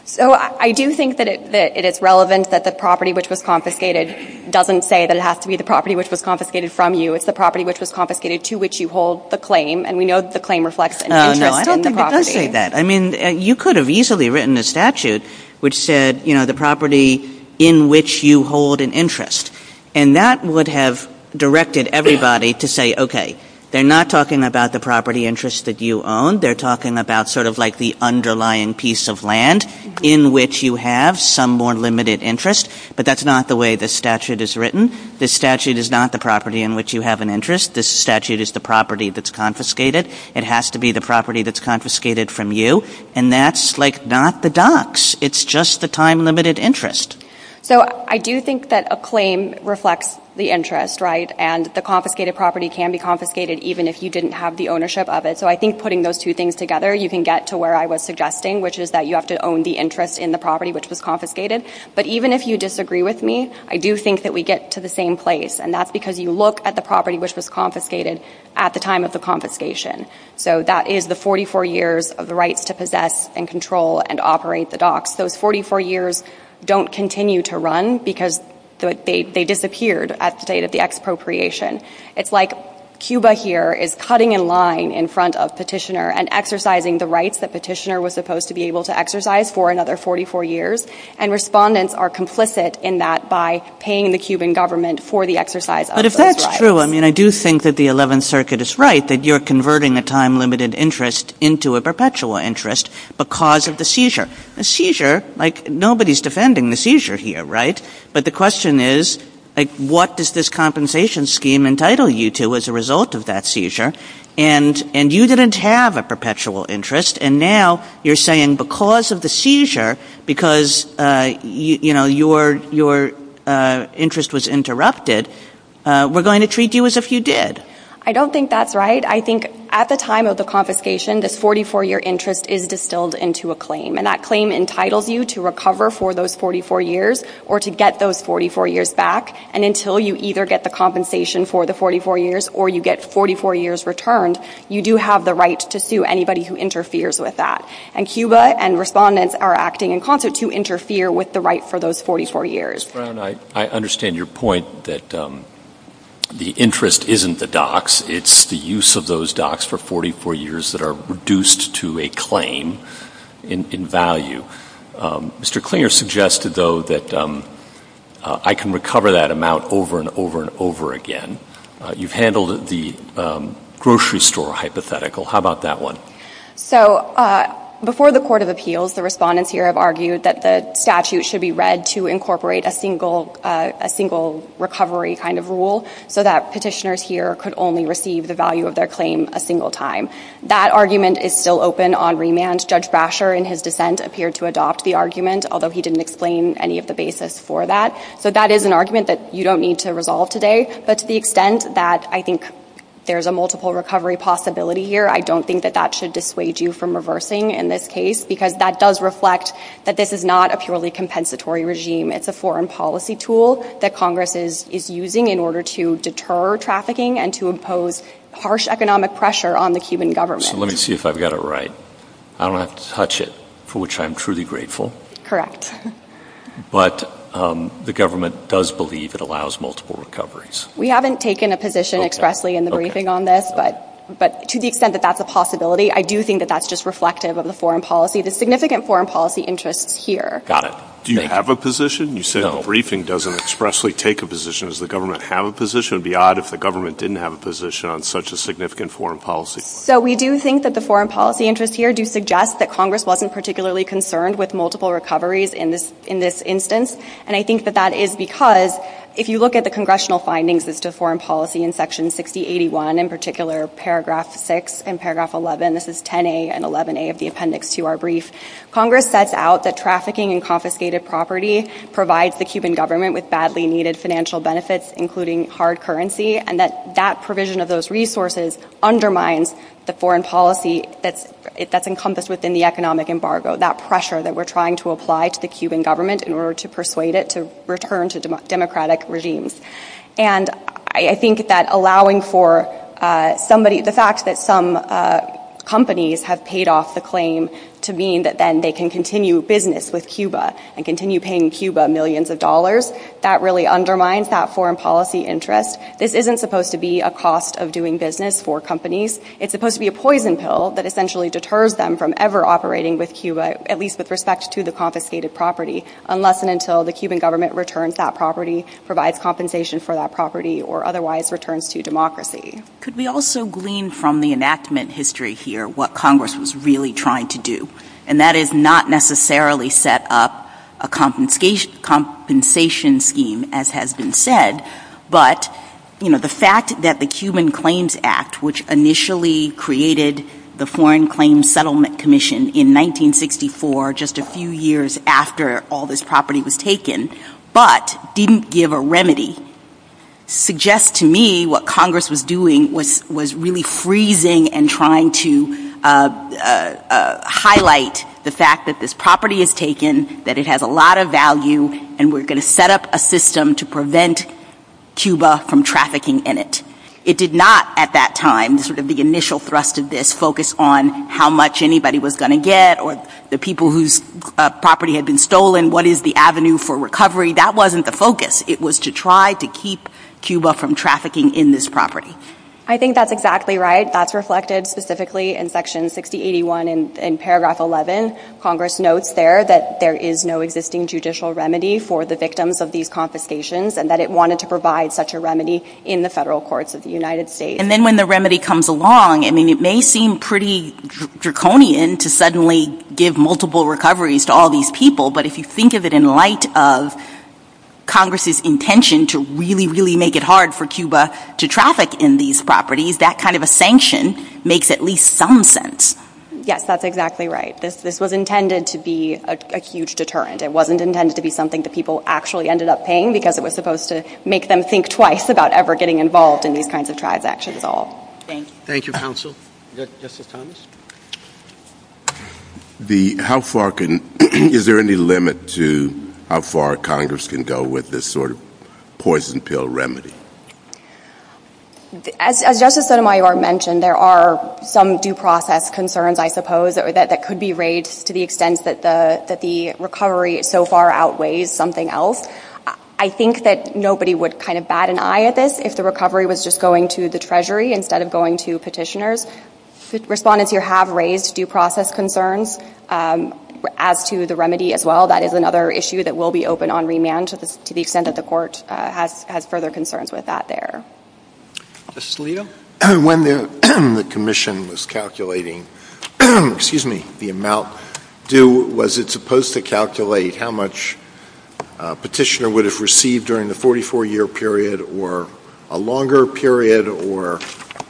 So I do think that it is relevant that the property which was confiscated doesn't say that it has to be the property which was confiscated from you. It's the property which was confiscated to which you hold the claim, and we know that the claim reflects an interest in the property. I agree with that. I mean, you could have easily written a statute which said, you know, the property in which you hold an interest, and that would have directed everybody to say, okay, they're not talking about the property interest that you own. They're talking about sort of like the underlying piece of land in which you have some more limited interest, but that's not the way the statute is written. The statute is not the property in which you have an interest. The statute is the property that's confiscated. It has to be the property that's confiscated from you, and that's like not the docs. It's just the time-limited interest. So I do think that a claim reflects the interest, right, and the confiscated property can be confiscated even if you didn't have the ownership of it, so I think putting those two things together, you can get to where I was suggesting, which is that you have to own the interest in the property which was confiscated, but even if you disagree with me, I do think that we get to the same place, and that's because you look at the property which was confiscated at the time of the confiscation, so that is the 44 years of the rights to possess and control and operate the docs. Those 44 years don't continue to run because they disappeared at the date of the expropriation. It's like Cuba here is cutting in line in front of Petitioner and exercising the rights that Petitioner was supposed to be able to exercise for another 44 years, and respondents are complicit in that by paying the Cuban government for the exercise of those rights. But if that's true, I do think that the 11th Circuit is right that you're converting a time-limited interest into a perpetual interest because of the seizure. Nobody is defending the seizure here, but the question is what does this compensation scheme entitle you to as a result of that seizure, and you didn't have a perpetual interest, and now you're saying because of the seizure, because your interest was interrupted, we're going to treat you as if you did. I don't think that's right. I think at the time of the confiscation, the 44-year interest is distilled into a claim, and that claim entitles you to recover for those 44 years or to get those 44 years back, and until you either get the compensation for the 44 years or you get 44 years returned, you do have the right to sue anybody who interferes with that. And Cuba and respondents are acting in concert to interfere with the right for those 44 years. Mr. Brown, I understand your point that the interest isn't the docs. It's the use of those docs for 44 years that are reduced to a claim in value. Mr. Klinger suggested, though, that I can recover that amount over and over and over again. You've handled the grocery store hypothetical. How about that one? So before the Court of Appeals, the respondents here have argued that the statute should be read to incorporate a single recovery kind of rule so that petitioners here could only receive the value of their claim a single time. That argument is still open on remand. Judge Brasher, in his dissent, appeared to adopt the argument, although he didn't explain any of the basis for that. So that is an argument that you don't need to resolve today, but to the extent that I think there's a multiple recovery possibility here, I don't think that that should dissuade you from reversing in this case because that does reflect that this is not a purely compensatory regime. It's a foreign policy tool that Congress is using in order to deter trafficking and to impose harsh economic pressure on the Cuban government. So let me see if I've got it right. I don't have to touch it, for which I'm truly grateful. Correct. But the government does believe it allows multiple recoveries. We haven't taken a position expressly in the briefing on this, but to the extent that that's a possibility, I do think that that's just reflective of the foreign policy. The significant foreign policy interests here. Got it. Do you have a position? You said the briefing doesn't expressly take a position. Does the government have a position? It would be odd if the government didn't have a position on such a significant foreign policy. So we do think that the foreign policy interests here do suggest that Congress wasn't particularly concerned with multiple recoveries in this instance, and I think that that is because if you look at the congressional findings as to foreign policy in Section 6081, in particular, Paragraph 6 and Paragraph 11, this is 10A and 11A of the appendix to our brief, Congress sets out that trafficking and confiscated property provides the Cuban government with badly needed financial benefits, including hard currency, and that that provision of those resources undermines the foreign policy that's encompassed within the economic embargo, that pressure that we're trying to apply to the Cuban government in order to persuade it to return to democratic regimes. And I think that allowing for somebody, the fact that some companies have paid off the claim to mean that then they can continue business with Cuba and continue paying Cuba millions of dollars, that really undermines that foreign policy interest. This isn't supposed to be a cost of doing business for companies. It's supposed to be a poison pill that essentially deters them from ever operating with Cuba, at least with respect to the confiscated property, unless and until the Cuban government returns that property, provides compensation for that property, or otherwise returns to democracy. Could we also glean from the enactment history here what Congress was really trying to do? And that is not necessarily set up a compensation scheme, as has been said, but the fact that the Cuban Claims Act, which initially created the Foreign Claims Settlement Commission in 1964, just a few years after all this property was taken, but didn't give a remedy, suggests to me what Congress was doing was really freezing and trying to highlight the fact that this property is taken, that it has a lot of value, and we're going to set up a system to prevent Cuba from trafficking in it. It did not at that time, sort of the initial thrust of this, focus on how much anybody was going to get or the people whose property had been stolen, what is the avenue for recovery. That wasn't the focus. It was to try to keep Cuba from trafficking in this property. I think that's exactly right. That's reflected specifically in Section 6081 in Paragraph 11. Congress notes there that there is no existing judicial remedy for the victims of these confiscations and that it wanted to provide such a remedy in the federal courts of the United States. And then when the remedy comes along, I mean, it may seem pretty draconian to suddenly give multiple recoveries to all these people, but if you think of it in light of Congress's intention to really, really make it hard for Cuba to traffic in these properties, that kind of a sanction makes at least some sense. Yes, that's exactly right. This was intended to be a huge deterrent. It wasn't intended to be something that people actually ended up paying because it was supposed to make them think twice about ever getting involved in these kinds of transactions at all. Thank you. Thank you, counsel. Justice Thomas? How far can... Is there any limit to how far Congress can go with this sort of poison pill remedy? As Justice Sotomayor mentioned, there are some due process concerns, I suppose, that could be raised to the extent that the recovery so far outweighs something else. I think that nobody would kind of bat an eye at this if the recovery was just going to the Treasury instead of going to petitioners. Respondents here have raised due process concerns. As to the remedy as well, that is another issue that will be open on remand to the extent that the Court has further concerns with that there. Justice Alito? When the Commission was calculating the amount due, was it supposed to calculate how much a petitioner would have received during the 44-year period or a longer period, or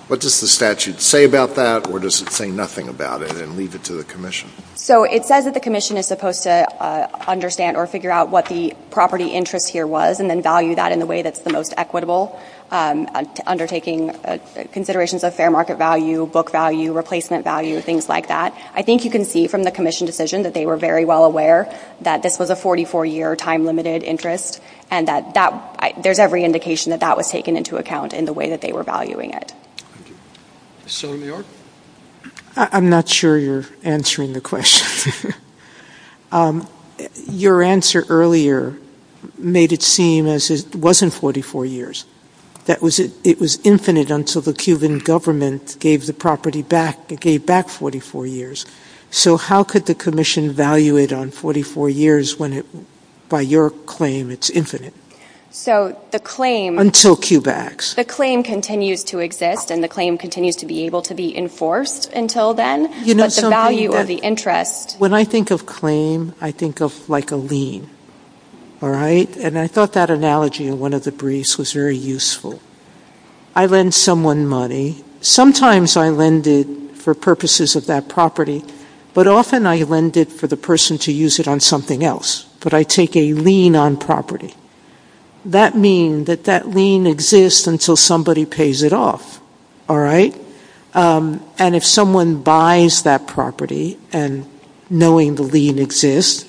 what does the statute say about that, or does it say nothing about it and leave it to the Commission? It says that the Commission is supposed to understand or figure out what the property interest here was and then value that in the way that's the most equitable, undertaking considerations of fair market value, book value, replacement value, things like that. I think you can see from the Commission decision that they were very well aware that this was a 44-year time-limited interest and that there's every indication that that was taken into account in the way that they were valuing it. Senator New York? I'm not sure you're answering the question. Your answer earlier made it seem as if it wasn't 44 years. It was infinite until the Cuban government gave the property back 44 years. So how could the Commission value it on 44 years when by your claim it's infinite? Until Cubax. The claim continues to exist and the claim continues to be able to be enforced until then, but the value of the interest When I think of claim, I think of like a lien. And I thought that analogy in one of the briefs was very useful. I lend someone money. Sometimes I lend it for purposes of that property, but often I lend it for the person to use it on something else. But I take a lien on property. That means that that lien exists until somebody pays it off. And if someone buys that property and knowing the lien exists,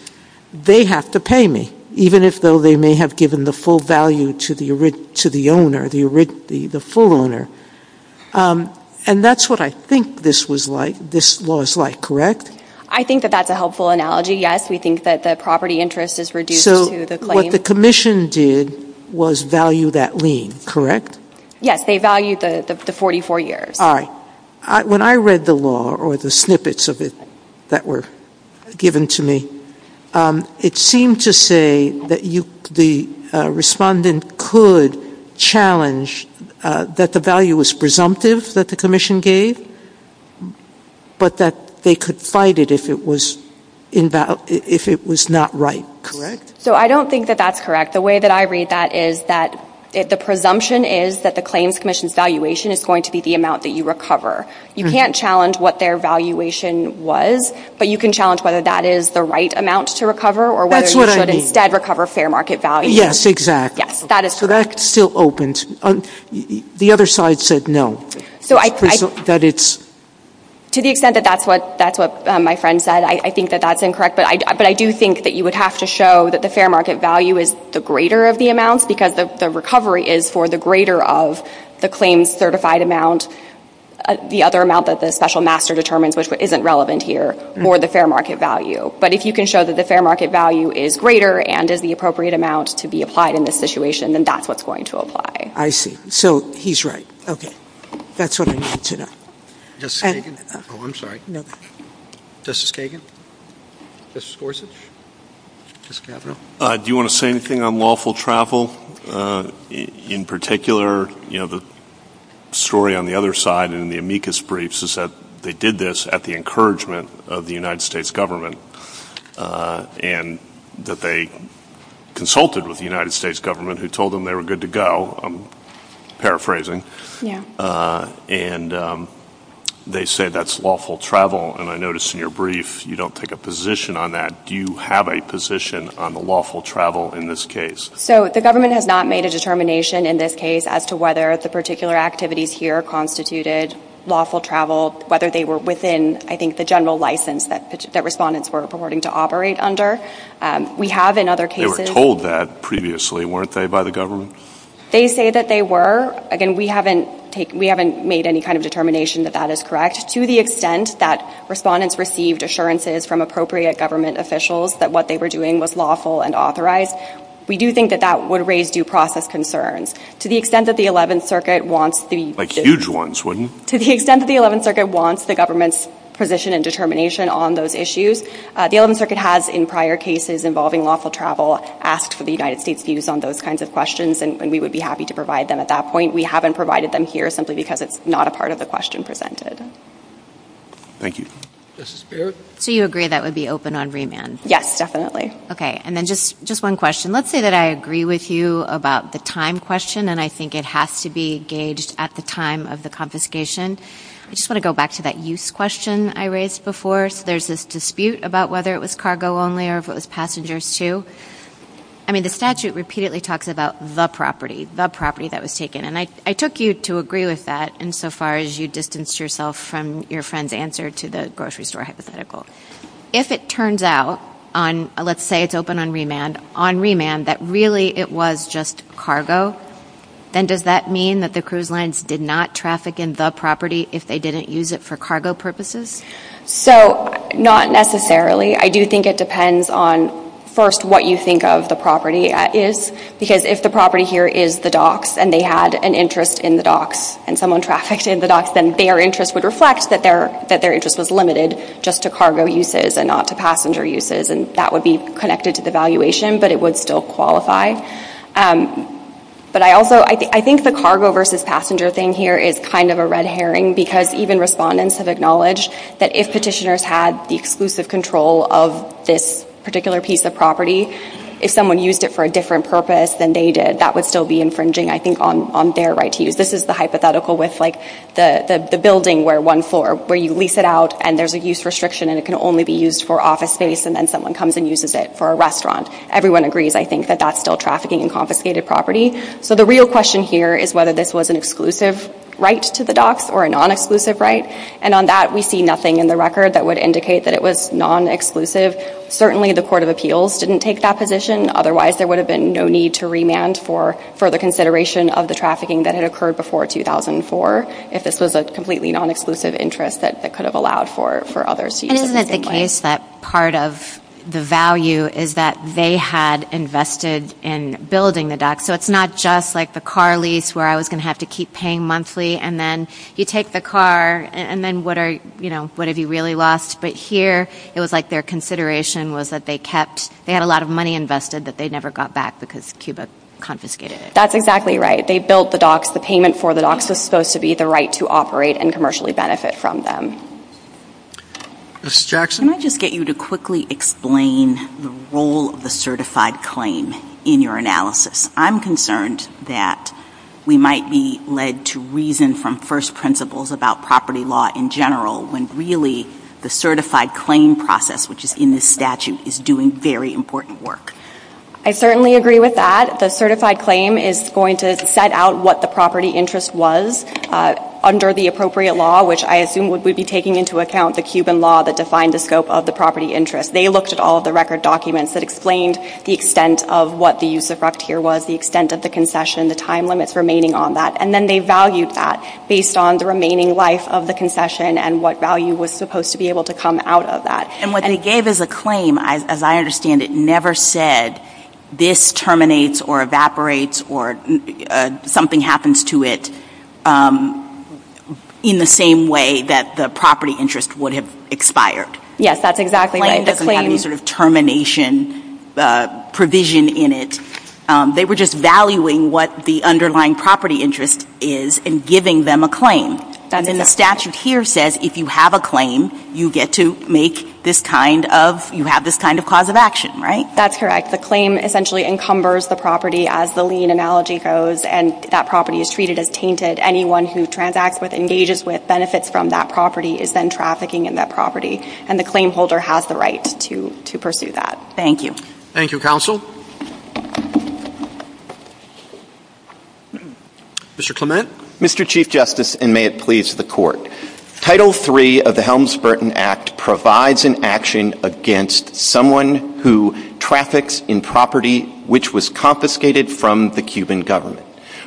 they have to pay me, even if they may have given the full value to the owner. And that's what I think this law is like, correct? I think that that's a helpful analogy, yes. We think that the property interest is reduced to the claim. So what the Commission did was value that lien, correct? Yes, they valued the 44 years. All right. When I read the law or the snippets of it that were given to me, it seemed to say that the respondent could challenge that the value was presumptive that the Commission gave, but that they could fight it if it was not right, correct? So I don't think that that's correct. The way that I read that is that the presumption is that the Claims Commission's valuation is going to be the amount that you recover. You can't challenge what their valuation was, but you can challenge whether that is the right amount to recover or whether you should instead recover fair market value. Yes, exactly. So that still opens. The other side said no. To the extent that that's what my friend said, I think that that's incorrect. But I do think that you would have to show that the fair market value is the greater of the amounts because the recovery is for the greater of the claims certified amount, the other amount that the special master determines, which isn't relevant here, for the fair market value. But if you can show that the fair market value is greater and is the appropriate amount to be applied in this situation, then that's what's going to apply. I see. So he's right. Okay. That's what I need to know. Justice Kagan? Oh, I'm sorry. No. Justice Kagan? Justice Gorsuch? Justice Gavril? Do you want to say anything on lawful travel? In particular, you know, the story on the other side in the amicus briefs is that they did this at the encouragement of the United States government and that they consulted with the United States government who told them they were good to go, I'm paraphrasing. Yeah. And they said that's lawful travel and I noticed in your brief you don't take a position on that. Do you have a position on the lawful travel in this case? So the government has not made a determination in this case as to whether the particular activities here constituted lawful travel, whether they were within, I think, the general license that respondents were purporting to operate under. We have in other cases... They were told that previously, weren't they, by the government? They say that they were. Again, we haven't made any kind of determination that that is correct to the extent that respondents received assurances from appropriate government officials that what they were doing was lawful and authorized. We do think that that would raise due process concerns. To the extent that the 11th Circuit wants the... Like huge ones, wouldn't you? To the extent that the 11th Circuit wants the government's position and determination on those issues, the 11th Circuit has in prior cases involving lawful travel asked for the United States' views on those kinds of questions and we would be happy to provide them at that point. We haven't provided them here simply because it's not a part of the question presented. Thank you. Justice Barrett? So you agree that would be open on remands? Yes, definitely. Okay. And then just one question. Let's say that I agree with you about the time question and I think it has to be gauged at the time of the confiscation. I just want to go back to that use question I raised before. So there's this dispute about whether it was cargo only or if it was passengers too. I mean, the statute repeatedly talks about the property, the property that was taken and I took you to agree with that insofar as you distanced yourself from your friend's answer to the grocery store hypothetical. If it turns out on, let's say it's open on remand, on remand that really it was just cargo, then does that mean that the cruise lines did not traffic in the property if they didn't use it for cargo purposes? So, not necessarily. I do think it depends on, first, what you think of the property as is because if the property here is the docks and they had an interest in the docks and someone trafficked in the docks then their interest would reflect that their interest was limited just to cargo uses and not to passenger uses and that would be connected to the valuation but it would still qualify. But I also, I think the cargo versus passenger thing here is kind of a red herring because even respondents have acknowledged that if petitioners had the exclusive control of this particular piece of property, if someone used it for a different purpose than they did, that would still be infringing I think on their right to use. This is the hypothetical with like the building where one floor, where you lease it out and there's a use restriction and it can only be used for office space and then someone comes and uses it for a restaurant. Everyone agrees, I think, that that's still trafficking and confiscated property. So the real question here is whether this was an exclusive right to the docks or a non-exclusive right and on that we see nothing in the record that would indicate that it was non-exclusive. Certainly, the Court of Appeals didn't take that position otherwise there would have been no need to remand for further consideration of the trafficking that had occurred before 2004 if this was a completely non-exclusive interest that could have allowed for others to use it. Isn't it the case that part of the value is that they had invested in building the docks so it's not just like the car lease where I was going to have to keep paying monthly and then you take the car and then what are, you know, what have you really lost but here it was like their consideration was that they kept, they had a lot of money invested that they never got back because Cuba confiscated it. That's exactly right. They built the docks. The payment for the docks was supposed to be the right to operate and commercially benefit from them. Ms. Jackson. Let me just get you to quickly explain the role of the certified claim in your analysis. I'm concerned that we might be led to reason from first principles about property law in general when really the certified claim process which is in the statute is doing very important work. I certainly agree with that. The certified claim is going to set out what the property interest was under the appropriate law which I assume would be taking into account the Cuban law that defined the scope of the property interest. They looked at all the record documents that explained the extent of what the use of rough tier was, the extent of the concession, the time limits remaining on that and then they valued that based on the remaining life of the concession and what value was supposed to be able to come out of that. And what they gave as a claim as I understand it never said this terminates or evaporates or something happens to it in the same way that the property interest would have expired. Yes, that's exactly right. It doesn't have any sort of termination provision in it. They were just valuing what the underlying property interest is and giving them a claim. And then the statute here says if you have a claim you get to make this kind of you have this kind of cause of action, right? That's correct. The claim essentially encumbers the property as the lien analogy goes and that property is treated as tainted. Anyone who transacts with engages with benefits from that property is then trafficking in that property and the claim holder has the right to pursue that. Thank you. Thank you, Counsel. Mr. Clement. Mr. Chief Justice and may it please the Court. Title III of the Helms-Burton Act provides an action against someone who traffics in property which was confiscated from the Cuban government.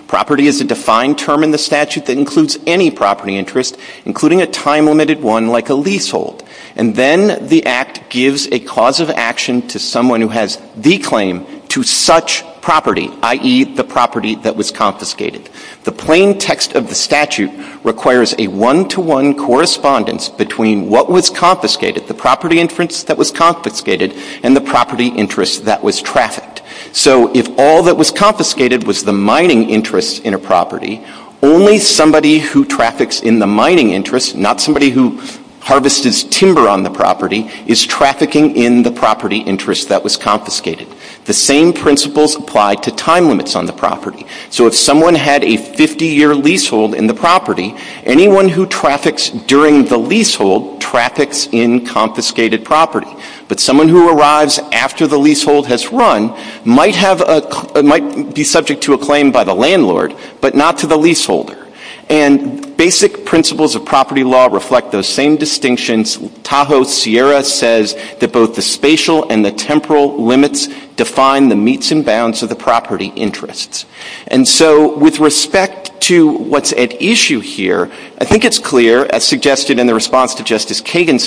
Property is a defined term in the statute that includes any property interest including a time-limited one like a leasehold. And then the Act gives a cause of action to someone who has the claim to such property i.e. the property that was confiscated. The plain text of the statute requires a one-to-one correspondence between what was confiscated, the property interest that was confiscated and the property interest that was trafficked. So if all that was confiscated was the mining interest in a property, only somebody who traffics in the mining interest not somebody who harvests timber on the property is trafficking in the property interest that was confiscated. The same principles apply to time limits on the property. So if someone had a 50-year leasehold in the property, anyone who traffics during the leasehold traffics in confiscated property. But someone who arrives after the leasehold has run might be subject to a claim by the landlord but not to the leaseholder. And basic principles of property law reflect those same distinctions. Tahoe Sierra says that both the spatial and the temporal limits define the meets and bounds of the property interests. And so with respect to what's at issue here, I think it's clear, as suggested in the response to Justice Kagan's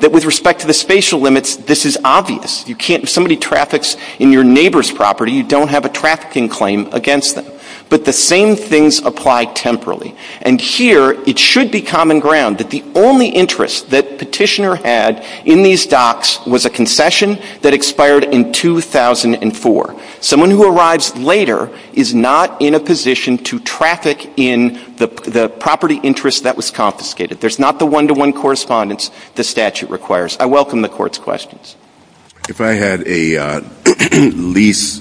that with respect to the spatial limits, this is obvious. If somebody traffics in your neighbor's property, you don't have a trafficking claim against them. But the same things apply temporally. And here it should be common ground that the only interest that Petitioner had in these docks was a concession that expired in 2004. Someone who arrives later is not in a position to traffic in the property interest that was confiscated. There's not the one-to-one correspondence the statute requires. I welcome the Court's questions. If I had a lease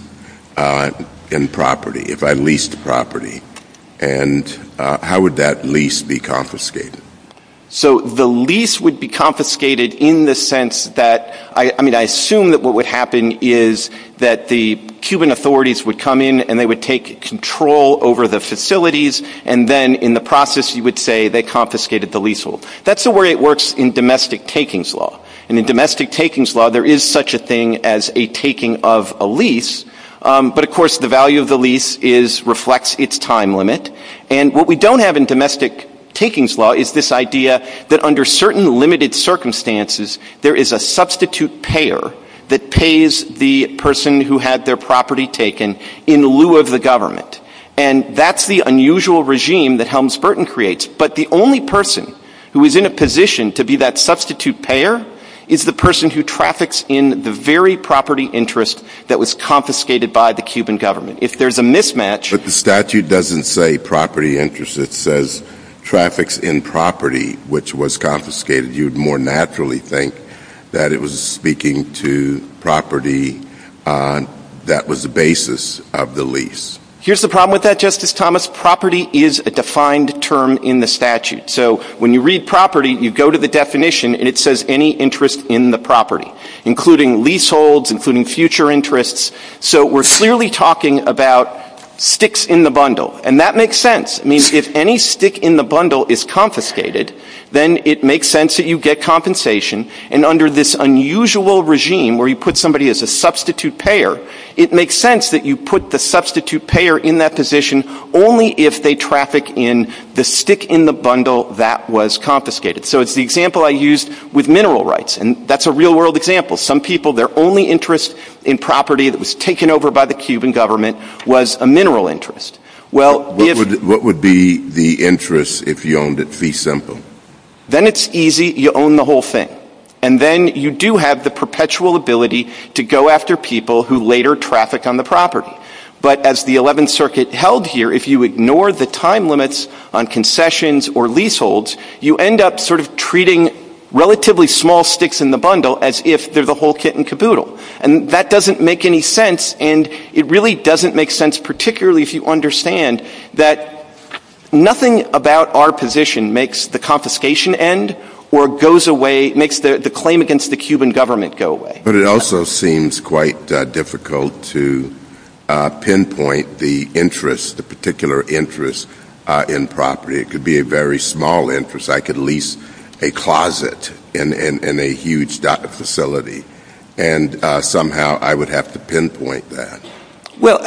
in property, if I leased property, and how would that lease be confiscated? So the lease would be confiscated in the sense that I assume that what would happen is that the Cuban authorities would come in and take control over the facilities and then in the process you would say they confiscated the lease. That's the way it works in domestic takings law. There is such a thing as a taking of a lease, but the value of reflects its time limit. And what we don't have in domestic takings law is this idea that under certain limited circumstances there is a substitute payer that pays the person who had their property taken in lieu of the government. And that's the unusual regime that Helms-Burton creates. But the only person who is in a position to be that payer is the person who traffics in the very property interest that was confiscated by the Cuban government. If there's a mismatch... But the statute doesn't say property interest. It says traffics in property, which was confiscated. You would more naturally think that it was speaking to property that was the basis of the lease. Here's the problem with that, Justice Thomas. Property is a defined term in the statute. So when you read property, you go to the definition and it says any interest in the including leaseholds, including future interests. So we're clearly talking about sticks in the And that makes sense. If any stick in the bundle is confiscated, then it makes sense that you get compensation. And under this unusual regime, where you put somebody as a substitute payer, it makes sense that you put the substitute payer in that position only if they traffic in the stick in the bundle that was confiscated. So it's the example I used with mineral rights. And that's a real-world example. Some people, their only interest in property that over by the Cuban government was a interest. What would be the interest if you owned it? Then it's easy. You own the whole thing. And then you do have the perpetual ability to go after people who later traffic on the property. But as the 11th Circuit held here, if you ignore the time limits on concessions or leaseholds, you end up treating relatively small sticks in the bundle as if they're the whole kit and caboodle. And that doesn't make any sense. And it really doesn't make sense particularly if you understand that nothing about our position makes the confiscation end or makes the claim against the Cuban government go away. But it also seems quite difficult to pinpoint the particular interest in property. It could be a very small interest. I could lease a closet in a huge facility and somehow I would have to pinpoint that. Well,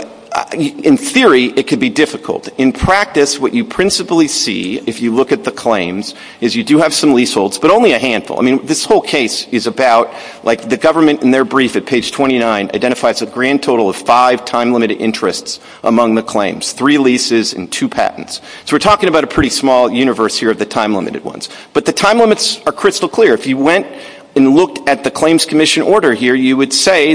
in theory, it could be difficult. In practice, what you principally see if you look at the claims is you do have some leaseholds but only a This whole case is about the government in their brief at page 29 identifies a grand total of five time years. If you went and looked at the claims commission order, you would see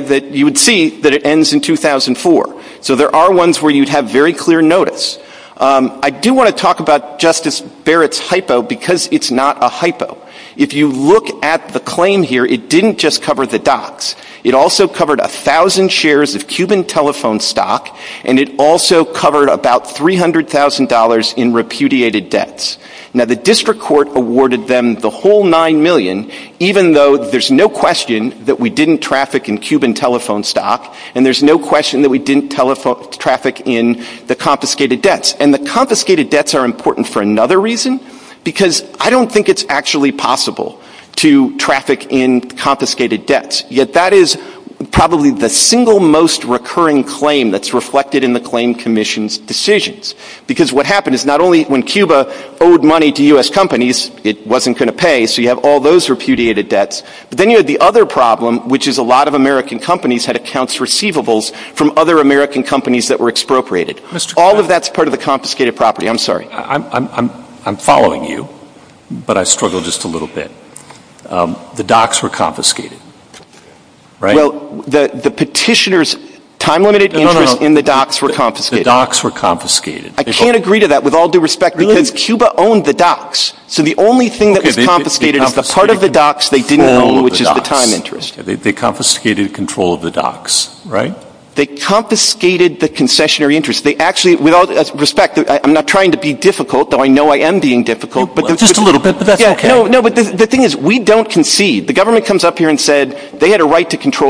that it ends in 2004. So there are ones where you would have very clear notice. I do want to talk about Justice Barrett's hypo because it's not a hypo. If you look at the claim here, it didn't just cover the docs. It also covered a thousand shares of Cuban telephone stock and it also covered about $300,000 in repudiated debts. Now, the district court awarded them the whole 9 million even though there's no question that we didn't traffic in Cuban telephone stock and there's no question that we didn't traffic in the confiscated debts. And the confiscated debts are important for another reason because I don't think it's actually possible to traffic in confiscated debts. Yet that is probably the single most recurring claim that's reflected in the claim commission's Because what happened is not only when Cuba owed money to U.S. companies that were expropriated, all of that's part of the confiscated property. following you but I struggle just a little bit. docks were confiscated. The petitioner's time-limited interest in the docks were I can't agree to that with all due respect because Cuba owned the docks. So the only thing that was true was that they had a right to control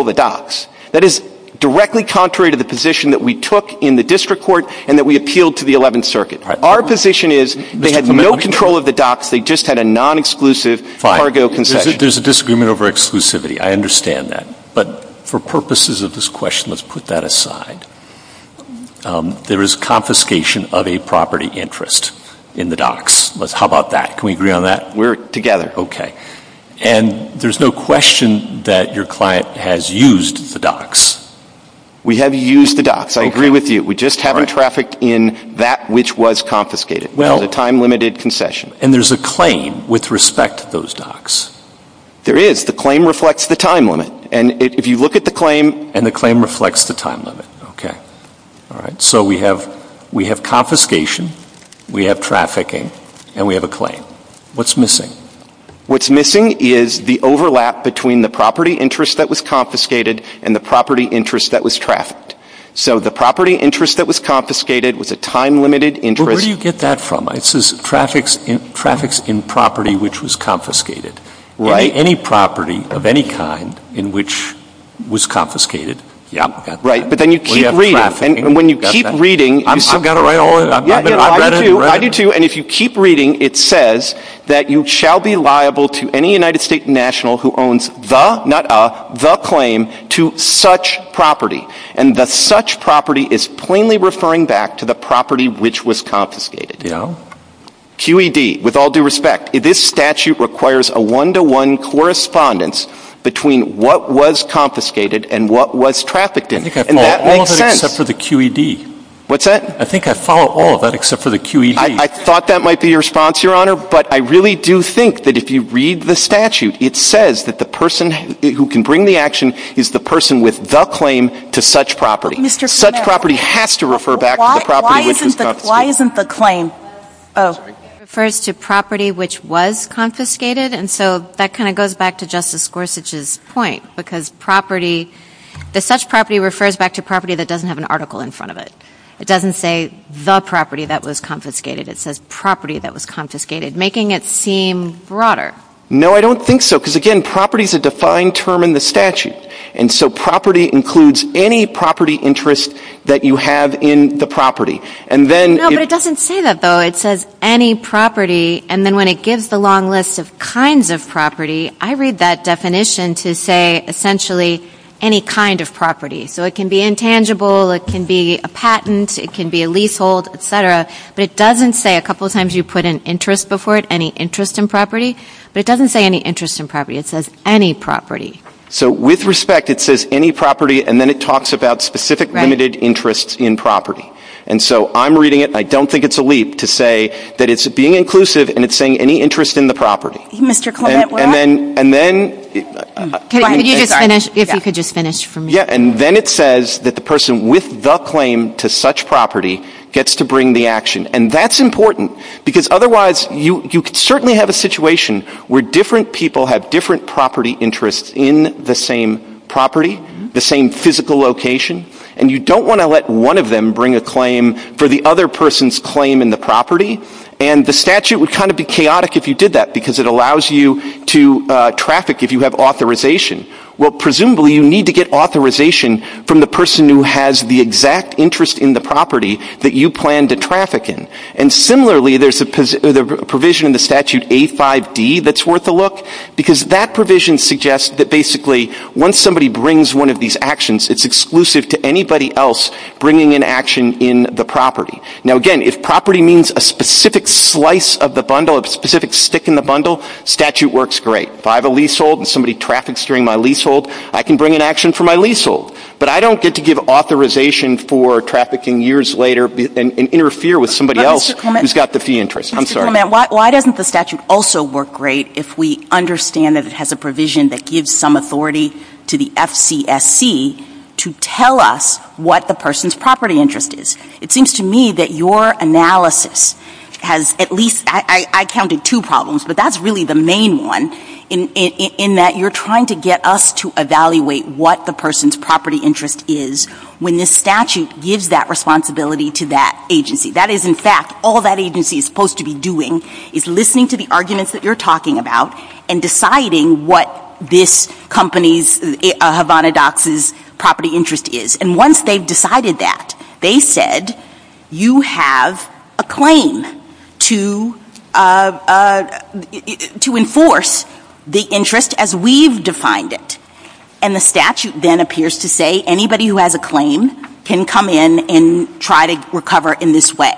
the docks. That is directly contrary to the position that we took in the district court and that we appealed to the 11th circuit. Our position is they had no control of the docks, they just had a non-exclusive cargo concession. There's a disagreement over exclusivity. understand that. But for purposes of this question let's put that aside. There is confiscation of a property interest in the docks. How about that? Can we agree on that? We're together. Okay. And there's no question that your client has used the We have confiscation we have trafficking. What's missing? What's missing is the overlap between the property interest that was confiscated and the property interest that was So the property interest that was confiscated was a time-limited interest Where do you get that from? Traffics in property which was confiscated. Any property of any kind in which was confiscated Right. But then you keep reading and when you keep reading I do too. And if you keep reading it says that you shall be liable to any United States national who owns the claim to such property. And the such property is plainly referring back to the property which was confiscated. QED, with all due respect, this statute requires a one-to-one correspondence between what was confiscated and what was trafficked in. And that makes sense. I think I follow all of that except for the QED. I thought that might be your response, Your Honor, but I really do think that if you look at statute it refers to property which was confiscated. And so that kind of goes back to Justice Gorsuch's point. Because such property refers back to property that doesn't have an article in front of it. It doesn't say the property that was confiscated. It says property that was confiscated, making it seem broader. No, I don't think so. Because, again, property is a defined term in the statute. And so property includes any property interest that you have in the property. No, but it doesn't say that though. It says any property and then when it gives the long list of kinds of property, I read that definition to say essentially any kind of property. So it can be intangible, it can be a it can be a leasehold, et cetera. But it doesn't say a couple of times you put an interest before it, any interest in property, but it doesn't say any interest in property, it says any property. So with respect, it says any property and then it talks about specific limited interests in property. And so I'm reading it, I don't think it's a leap to say that it's being inclusive and it's saying any interest in the property. And then it says that the person with the claim to such property gets to bring the action. And that's important because otherwise you can certainly have a situation where different people have different property interests in the same property, the same physical location, and you don't want to let one of them bring a claim for the other person's claim in the property. And the statute would kind of be chaotic if you did that because it allows you to traffic if you have authorization. Well, presumably you need to get authorization from the person who has the exact interest in the property that you plan to traffic in. And similarly, there's a provision in statute A-5-D that's worth a look because that provision suggests that basically once somebody brings one of these actions it's exclusive to anybody else bringing an action in the property. Now, again, if property means a specific slice of the bundle, a specific stick in the bundle, statute works great. If I have a leasehold and somebody brings I think the statute also works great if we understand that it has a provision that gives some authority to the FCSC to tell us what the person's property interest is. It seems to me that your analysis has at least I counted two problems but that's really the main one in that you're trying to get us to evaluate what the person's interest is when the statute gives that responsibility to that agency. That is, in fact, all that agency is supposed to be doing is listening to the that you're talking about and deciding what this company's property interest is. And once they've decided that, they said you have a claim to enforce the interest as we've defined it. And the statute then appears to say anybody who has a claim can come in and try to recover in this way.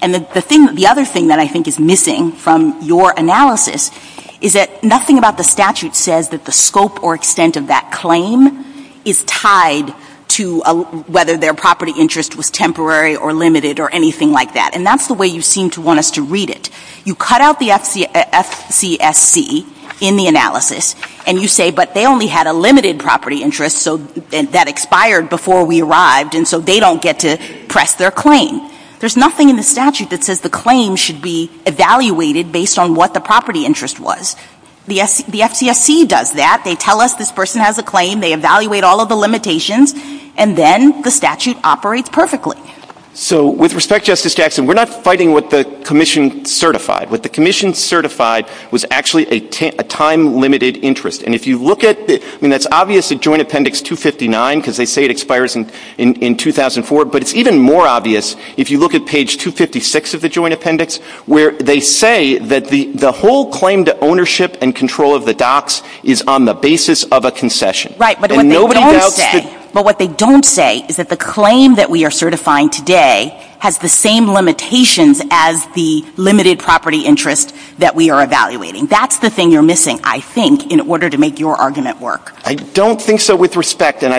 And the other thing that I think is missing from your analysis is that nothing about the property interest was temporary or limited or anything like that. And that's the way you seem to want us to read it. You cut out the in the analysis and you say but they only had a property interest that expired before we arrived and so they don't get to press their claim. There's nothing in the statute that says the claim should be evaluated based on what the property interest was. The FCFC does that. They tell us this person has a they evaluate all of the limitations and then the statute operates perfectly. respect, we're not fighting what the commission certified. What the certified was a time limited interest. It's even more obvious if you look at page 256 of the joint appendix where they say that the whole claim to ownership and control of the docks is on the basis of a concession. But what they don't say is that the claim that we are certifying today has the same limitations as the limited property interest that we are evaluating. That's the thing you're I think, in order to make your argument work. I don't think so with respect. If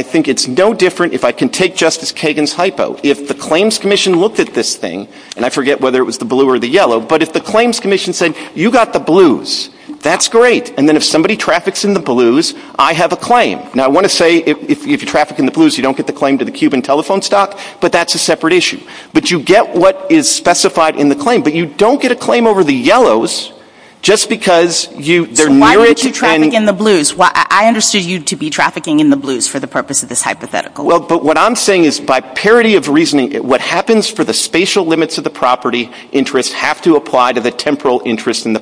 the claims commission looked at this thing, I forget whether it was the blue or the yellow, but if the claims commission said you got the blues, that's great. If you traffic in the blues, I understood you to be in the What happens for the spatial limits of the property interest have to apply to the temporal interest in the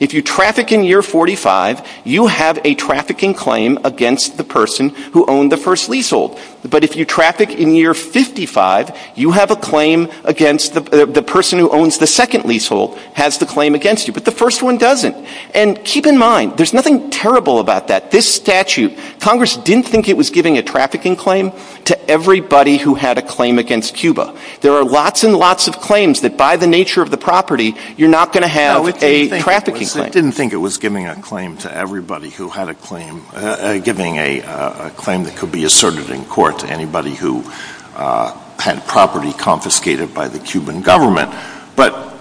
If you traffic in year 45, you have a trafficking claim against the person who owns the first leasehold. But if you traffic in year 55, you have a claim against the person who owns the second leasehold has the claim against you. But the first one doesn't. And keep in mind, there's nothing terrible about that. This statute, didn't think it was giving a claim to everybody who had a claim that could be asserted in court to anybody who had property confiscated by the Cuban government. But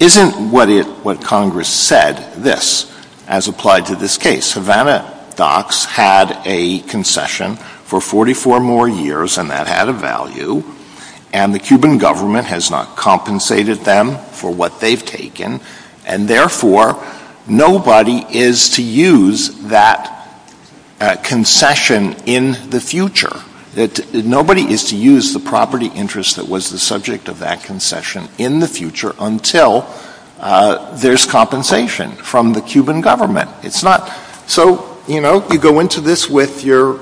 isn't what Congress said this as applied to this case? Havana docks had a concession for 44 more years, and that had a value, and the Cuban government has not used that nobody is to use that concession in the future. Nobody is to use the property interest that was the subject of that concession in the future until there's compensation from the government. So, you know, you go into this with your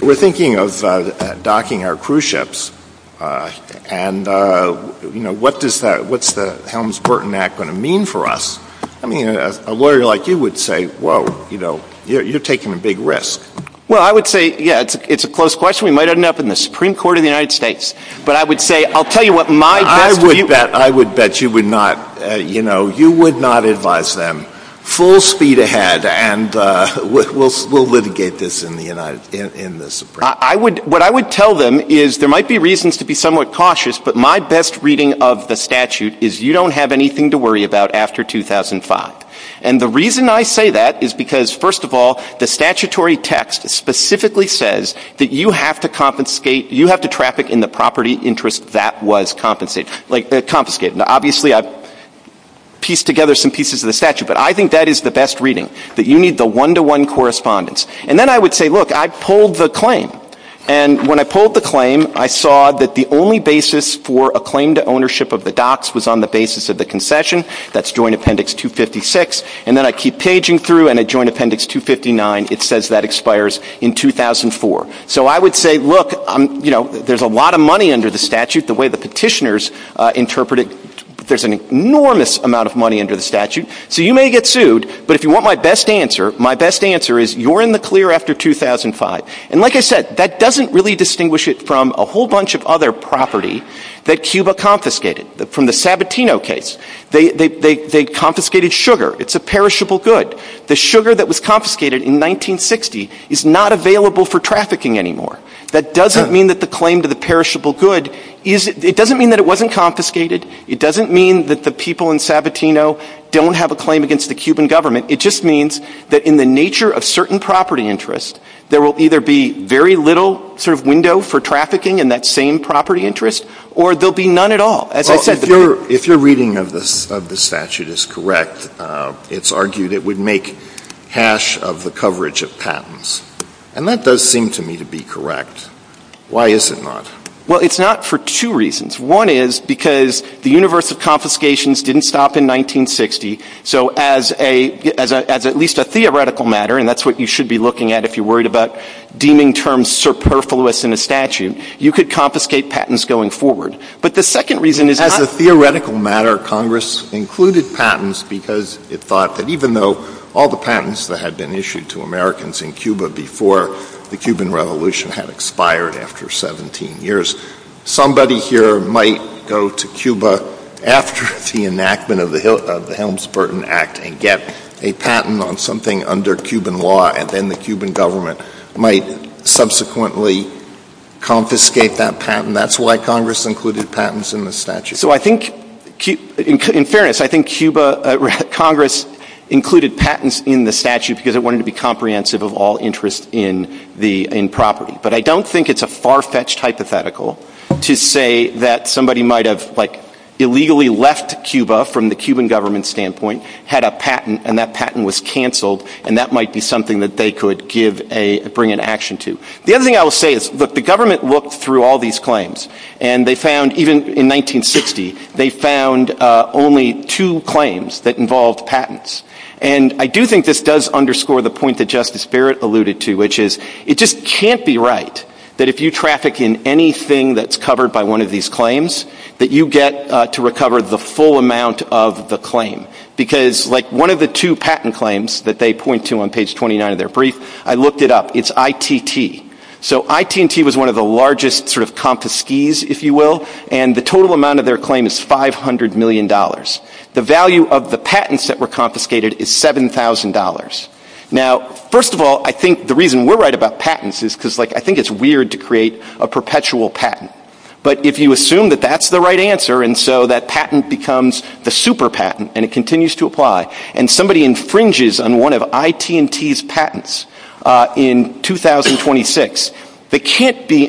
record thinking of docking our cruise ships and, you know, what's the Helms-Burton Act going to mean for us? I mean, a lawyer like you would say, whoa, you're taking a big risk. Well, I would say, yeah, it's a close question. We might end up in the Supreme Court of the United States. But I would say, I'll tell you what my best... I would bet you would not, you know, you would not advise them full speed ahead and we'll litigate this in the Supreme Court. I would tell them there might be reasons to be cautious, but my best reading of the statute is you don't have anything to worry about after 2005. And the reason I say that is because first of all, the statutory text specifically says that you have to traffic in the property the interest that was compensated. Obviously I pieced together some pieces of the statute, but I think that is the best reading, that you need the one-to-one correspondence. And then I would say, look, I pulled the claim, and when I pulled the claim, I saw that the only basis for a claim to be on the basis of concession. And then I keep paging through, and it says that expires in 2004. So I would say, look, there is a lot of money under the statute. So you may get sued, but if you want my best answer, my best answer is you are in the clear after 2005. And like I said, that doesn't really distinguish it from a whole bunch of other property that Cuba confiscated. From the Sabatino case, they confiscated sugar. It's a perishable good. The sugar that was confiscated in 1960 is not available for anymore. That doesn't mean that the people in Sabatino don't have a claim against the Cuban government. It just means that in the nature of certain property interests, there will either be very little sort of window for trafficking in that same property interest, or there will be none at all. If your reading of this statute is correct, it's argued it would make hash of the coverage of And that does seem to me to be correct. Why is it not? Well, it's not for two reasons. One is because the universe of confiscations didn't stop in 1960, so as at least a theoretical matter, and that's what you should be looking at if you're worried about deeming terms superfluous in a statute, you could confiscate patents going forward. But the second reason is not As a theoretical matter, included patents because it thought that even though all the patents that had been issued to Americans in Cuba before the Cuban revolution had expired after 17 years, somebody here might go to Cuba after the enactment of the Helms-Burton Act and get a patent on something under Cuban law, and then the Cuban government might subsequently confiscate that patent. That's why Congress included patents in the statute. So I think, in fairness, I think Congress included patents in the statute because it wanted to be comprehensive of all interests in property. But I don't think it's a far-fetched hypothetical to say that somebody might have, like, illegally left Cuba from the Cuban government standpoint, had a patent, and that patent was canceled, and that might be something that they could bring into action to. The other thing I will say is that the government looked through all these claims, and they found, even in 1960, they found only two claims that involved patents. And I do think this does underscore the point that Justice Barrett alluded to, which is, it just can't be right that if you traffic in anything that's illegal, So IT&T was one of the largest confiscees, if you will, and the total amount of their claim is $500 million. The value of the patents that were confiscated is $7,000. First of all, I think the reason we're right about patents is because I think it's weird to think that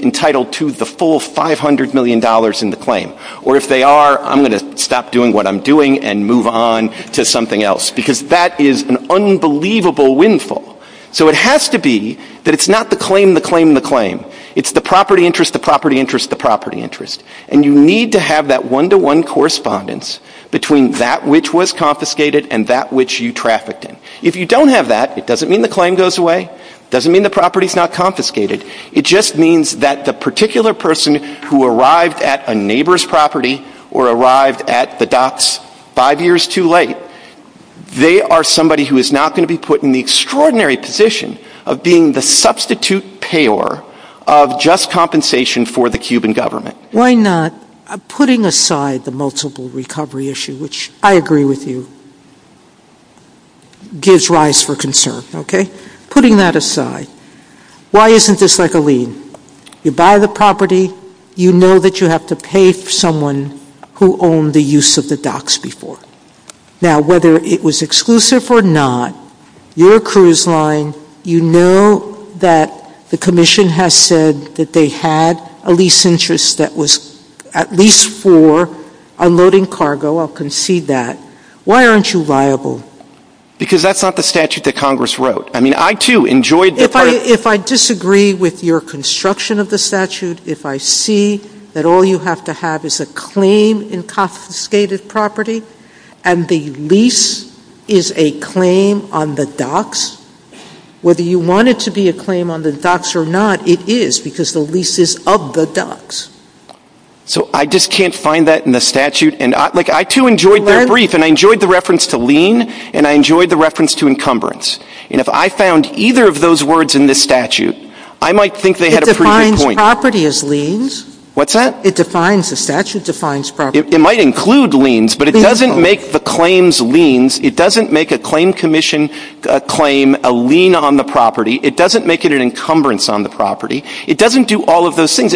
entitled to the full $500 million in the claim, or if they are, I'm going to stop doing what I'm doing and move on to something else, because that is an unbelievable windfall. So it has to be that it's not the claim, the claim, the claim. It's the property interest, the property interest, the property interest. And you need to have that one-to-one correspondence between that which was confiscated and that which you trafficked in. If you don't have that, it doesn't mean the claim goes away, it doesn't mean the property is not confiscated. It just means that the particular person who arrived at a neighbor's property or arrived at the docks five years too late, they are somebody who is not going to be put in the extraordinary position of being the substitute payer of just compensation for the government. Why not putting aside the multiple recovery issue, which I agree with you, gives rise for concern. Putting that aside, pay for someone who owned the use of the docks before? Now, whether it was exclusive or not, your cruise line, you know that the commission has said that they had a lease interest that was at least for unloading cargo, I'll concede that. Why aren't you viable? Because that's not the statute that Congress wrote. If I disagree with your construction of the statute, if I see that all you have to have is a claim in confiscated property, and the lease is a claim on the docks, whether you want it to be a claim on the docks or not, it is, because the lease is of the I just can't find that in the statute. If I found either of those words in this statute, I might think they had a pretty good point. property as It might include leans, but it doesn't make the claims leans. It doesn't make a claim commission claim a lean on the property. It doesn't make it an encumbrance on the property. It doesn't do all of those things.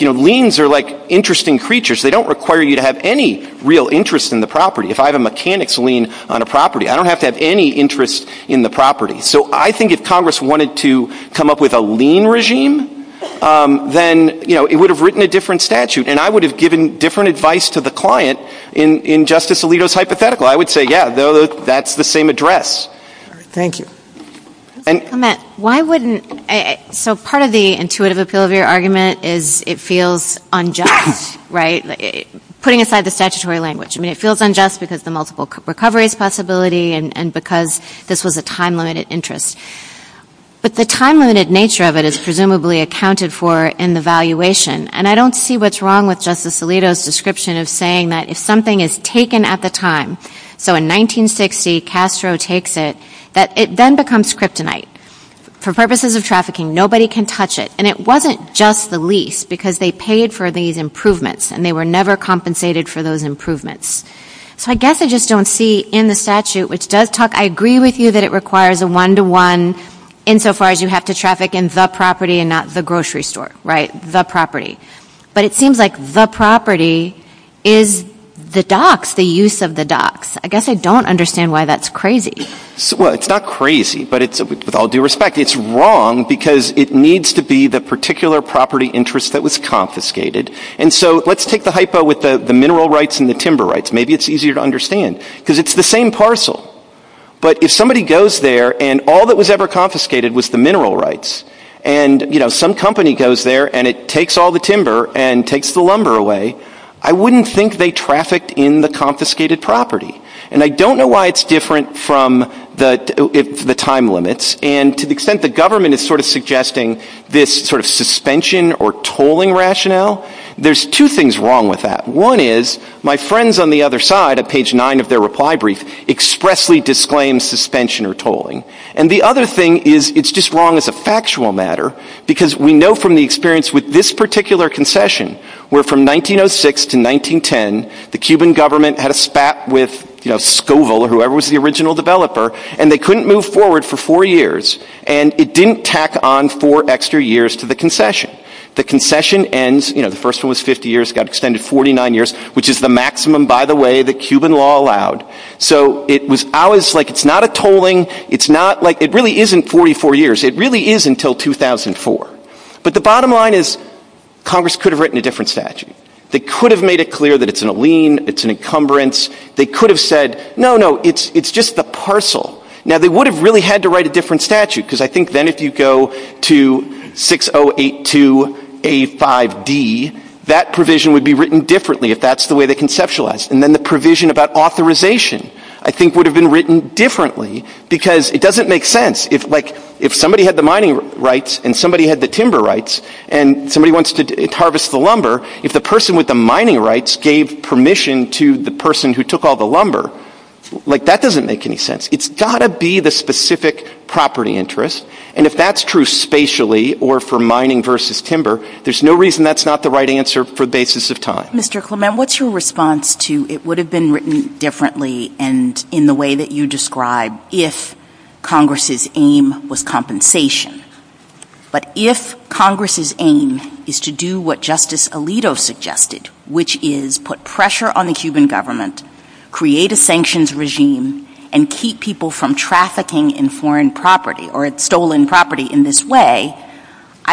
Leans are interesting creatures. They don't require you to have any real interest in the property. I don't have to have any interest in the property. If Congress wanted to come up with a lean regime, it would have written a different statute. I would Part of the argument is it feels unjust, putting aside the statutory language. It feels unjust because the multiple recovery possibility and because this was a time limited interest. The time limited nature is accounted for in the valuation. I don't see what's wrong with the description of if something is taken at the time, it becomes kryptonite. Nobody can touch it. It wasn't just the They were never compensated for the property. It seems like the property is the use of the docks. I don't understand why that's crazy. It's wrong because it needs to be the particular property interest that was confiscated. Let's take the hypo with the mineral rights and timber rights. If somebody goes there and all that was confiscated was the mineral rights and some company goes there and takes all the timber and lumber away, I wouldn't think they trafficked in the confiscated property. I don't know why it's different from the time limits. To the extent the government is suggesting this suspension or tolling rationale, there's two things wrong with that. One is my friends on the other side expressly disclaim suspension or The other thing is it's wrong as a factual matter because we know from this particular concession where from 1906 to 1910 the Cuban government had a spat with the Cuban which is the maximum by the way the Cuban law allowed. It's not a tolling. It really isn't 44 years. It really is until 2004. The bottom line is Congress could have written a different statute. I think then if you go to 6082A5D that provision would be written differently if that's the way they conceptualized. The provision about authorization would have been written differently. It doesn't make sense. If somebody had the mining rights and the timber rights and somebody wants to harvest the if the property interest and if that's true spatially there's no reason that's not the right answer. It would have been written differently in the way you described if Congress's aim was compensation. But if Congress's aim is to do what Alito was trying to do I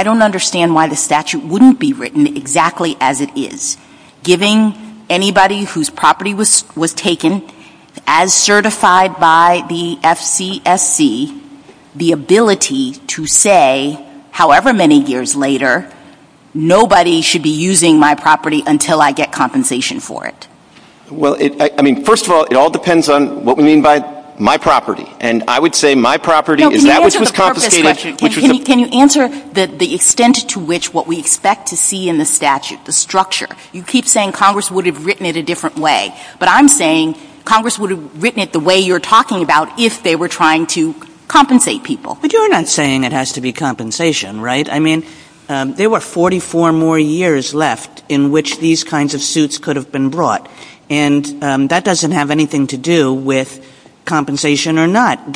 don't understand why the statute wouldn't be written exactly as it is. Giving anybody whose property was taken as certified by the FCC the ability to say however many years later nobody should be using my property until I get compensation for it. First of all it all depends on what we mean by my property. Can you answer the extent to which what we expect to see in the statute, You keep saying Congress would have written it a different way but I'm saying Congress would have written it the way you're talking about if they were trying to compensate people. But you're not saying it has to be compensation right? I mean there were 44 more years left in which these kinds of suits could have been brought and that doesn't have anything to do with compensation. You're saying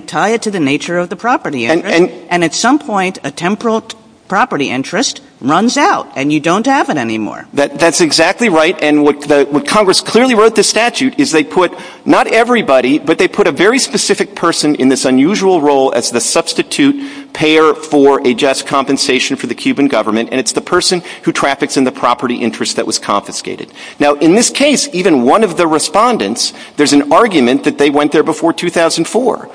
tie it to the nature of the property interest and at some point a temporal property interest runs out and you don't have it anymore. That's exactly right and what Congress clearly wrote the statute is they put not everybody but they put a very specific person in this unusual role as the substitute payer for a just compensation for the Cuban government and it's the person who traffics in the property interest that was confiscated. In this case even one of the respondents there's an argument that they went there before 2004.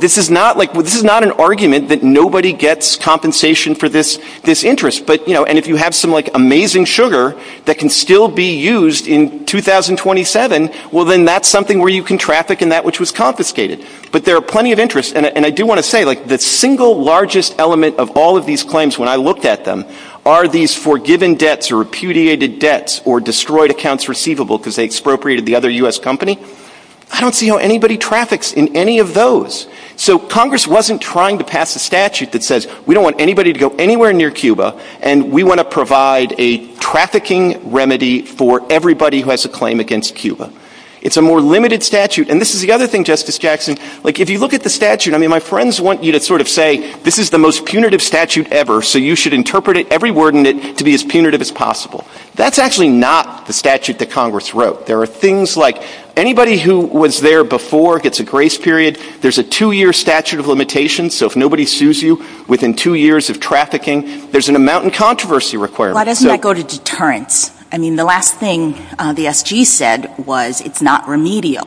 This is not an argument that nobody gets compensation for this interest. If you have amazing sugar that can still be used in 2027, that's something you can traffic in that which was confiscated. The single largest element of all of these claims when I looked at them are these forgiven debts or repudiated debts or destroyed accounts receivable because they expropriated the other U.S. company. I don't see how traffics in any of those. So Congress wasn't trying to pass a statute that says we don't want anybody to go anywhere near Cuba and we want to provide a trafficking remedy for everybody who has a claim against Cuba. It's a more limited statute. who was there before gets a grace period. There's a two-year statute of so if nobody sues you within two years of there's an amount of controversy required. Why doesn't that go to deterrence? The last thing the S.G. said was it's not remedial.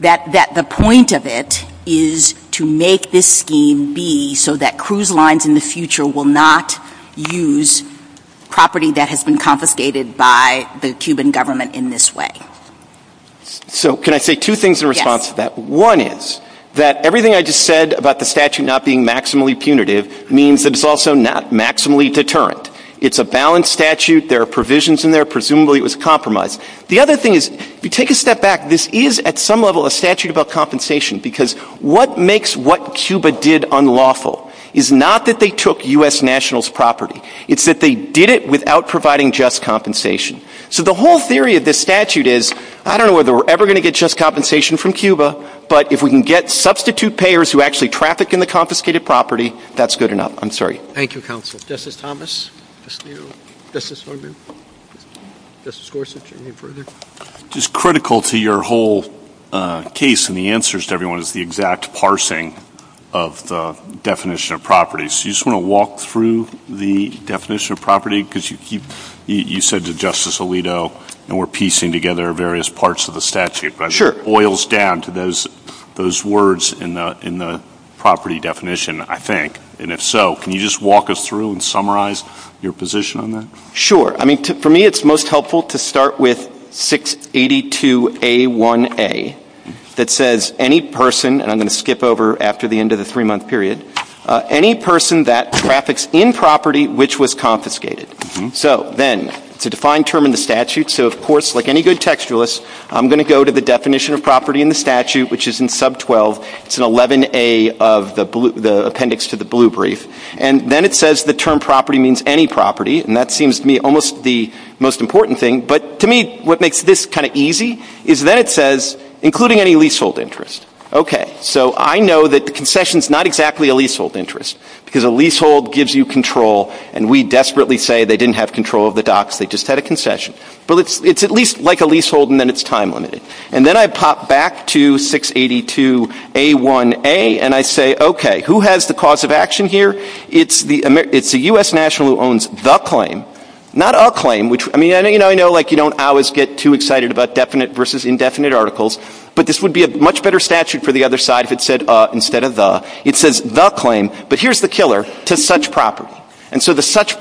The point of it is to make this scheme be so that cruise lines in the future will not use property that has been confiscated by the Cuban government in this way. One is everything I said about the statute not being maximally punitive means it's not maximally deterrent. It's a balanced statute. There are provisions in there. it was compromised. The other thing is this is a statute about compensation. What makes what Cuba did unlawful is not that they took U.S. nationals property. It's that they did it without providing just compensation. The whole theory of this statute is I don't know if we're ever going to get just compensation from Cuba but if we can get substitute payers that traffic in the confiscated property that's good enough. I'm not going specifics of statute. It boils down to those words in the property definition. Can you walk us through and summarize your position? For me it's most helpful to start with 682A1A that says any person that traffics in property which was confiscated. To define term in the statute I'm going to go to the definition of property in the which is in sub 12. Then it says the term property means any property. To me what makes this easy is that it says including any lease hold interest. I know that the concession is not exactly a lease hold interest. It's at least like a lease hold. Then I pop back to 682A1A and I say who has the cause of here? It's a U.S. national who owns the claim. Not a claim. I know you don't always get too excited about definite versus indefinite articles. It says the claim. Here is the killer. Such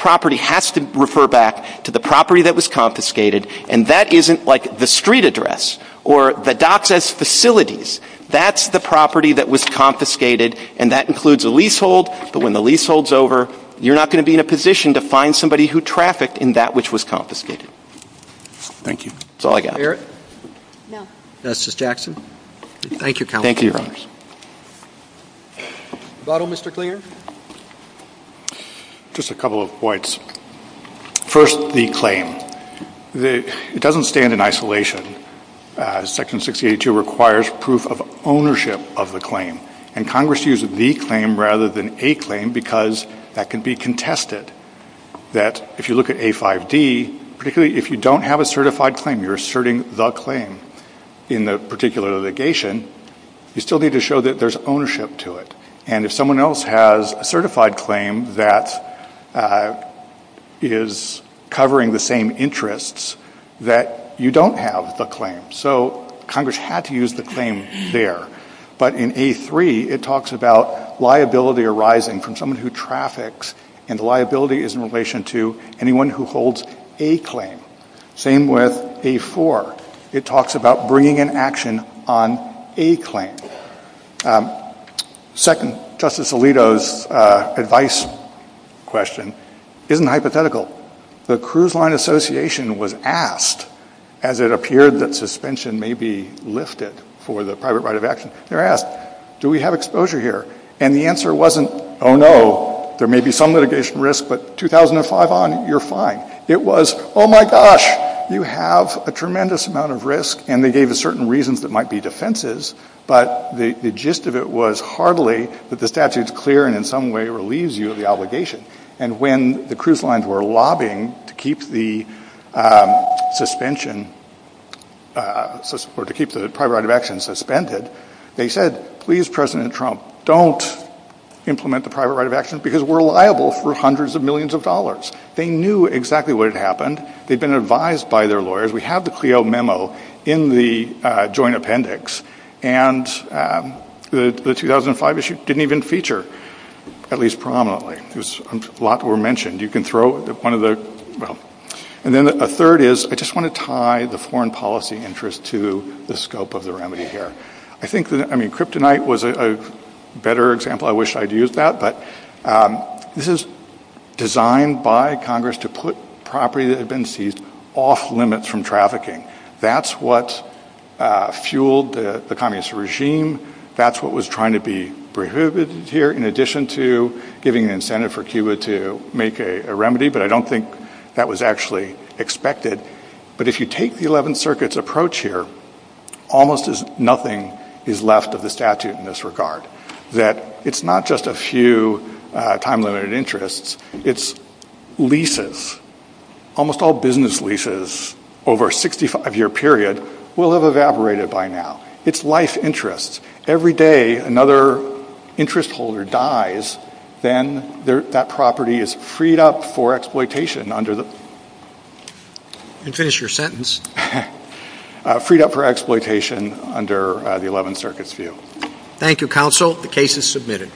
property has to refer back to the property that was confiscated. That's the property that was confiscated. That includes the lease hold. When the lease hold is over, you're not going to be in a position to find someone who trafficked in that which was confiscated. That's all I got. Thank you. Mr. Clear? Just a couple of points. First, the claim. It doesn't stand in use the claim rather than a claim because that can be contested. If you look at A5D, if you don't have a certified claim, you still need to show that there is ownership to it. If someone else has a certified claim that is covering the same interests that you don't have the Congress had to use the claim there. But in A3, it talks about liability arising from someone who trafficked and liability is in relation to anyone who holds a claim. Same with A4. It talks about bringing in action on a claim. Second, the cruise line association was asked as it appeared that suspension may be lifted for the private right of action, do we have exposure here? The answer wasn't, oh, no, there may be some litigation risk, but 2005 on, you're fine. It was, oh, my gosh, you have a legal to keep the private right of action suspended. They said, please, President Trump, don't implement the private right of because we're liable for hundreds of millions of dollars. They knew exactly what had We had the memo in the joint appendix. The 2005 issue didn't even feature at least prominently. A lot were mentioned. A third is I just want to tie the foreign policy interest to the scope of the remedy here. Kryptonite was a better example. This is designed by Congress to put property that had off limits from trafficking. That's what fueled the communist regime. That's what was trying to be prohibited here in addition to giving incentive to make a remedy. I don't think that was expected. If you If you just a few time limited interests. It's leases. Almost all business leases over a 65 year period will have evaporated by now. It's life interests. Every day another interest holder dies, then that property is freed up for exploitation under the 11th amendment. Thank you, The case is submitted.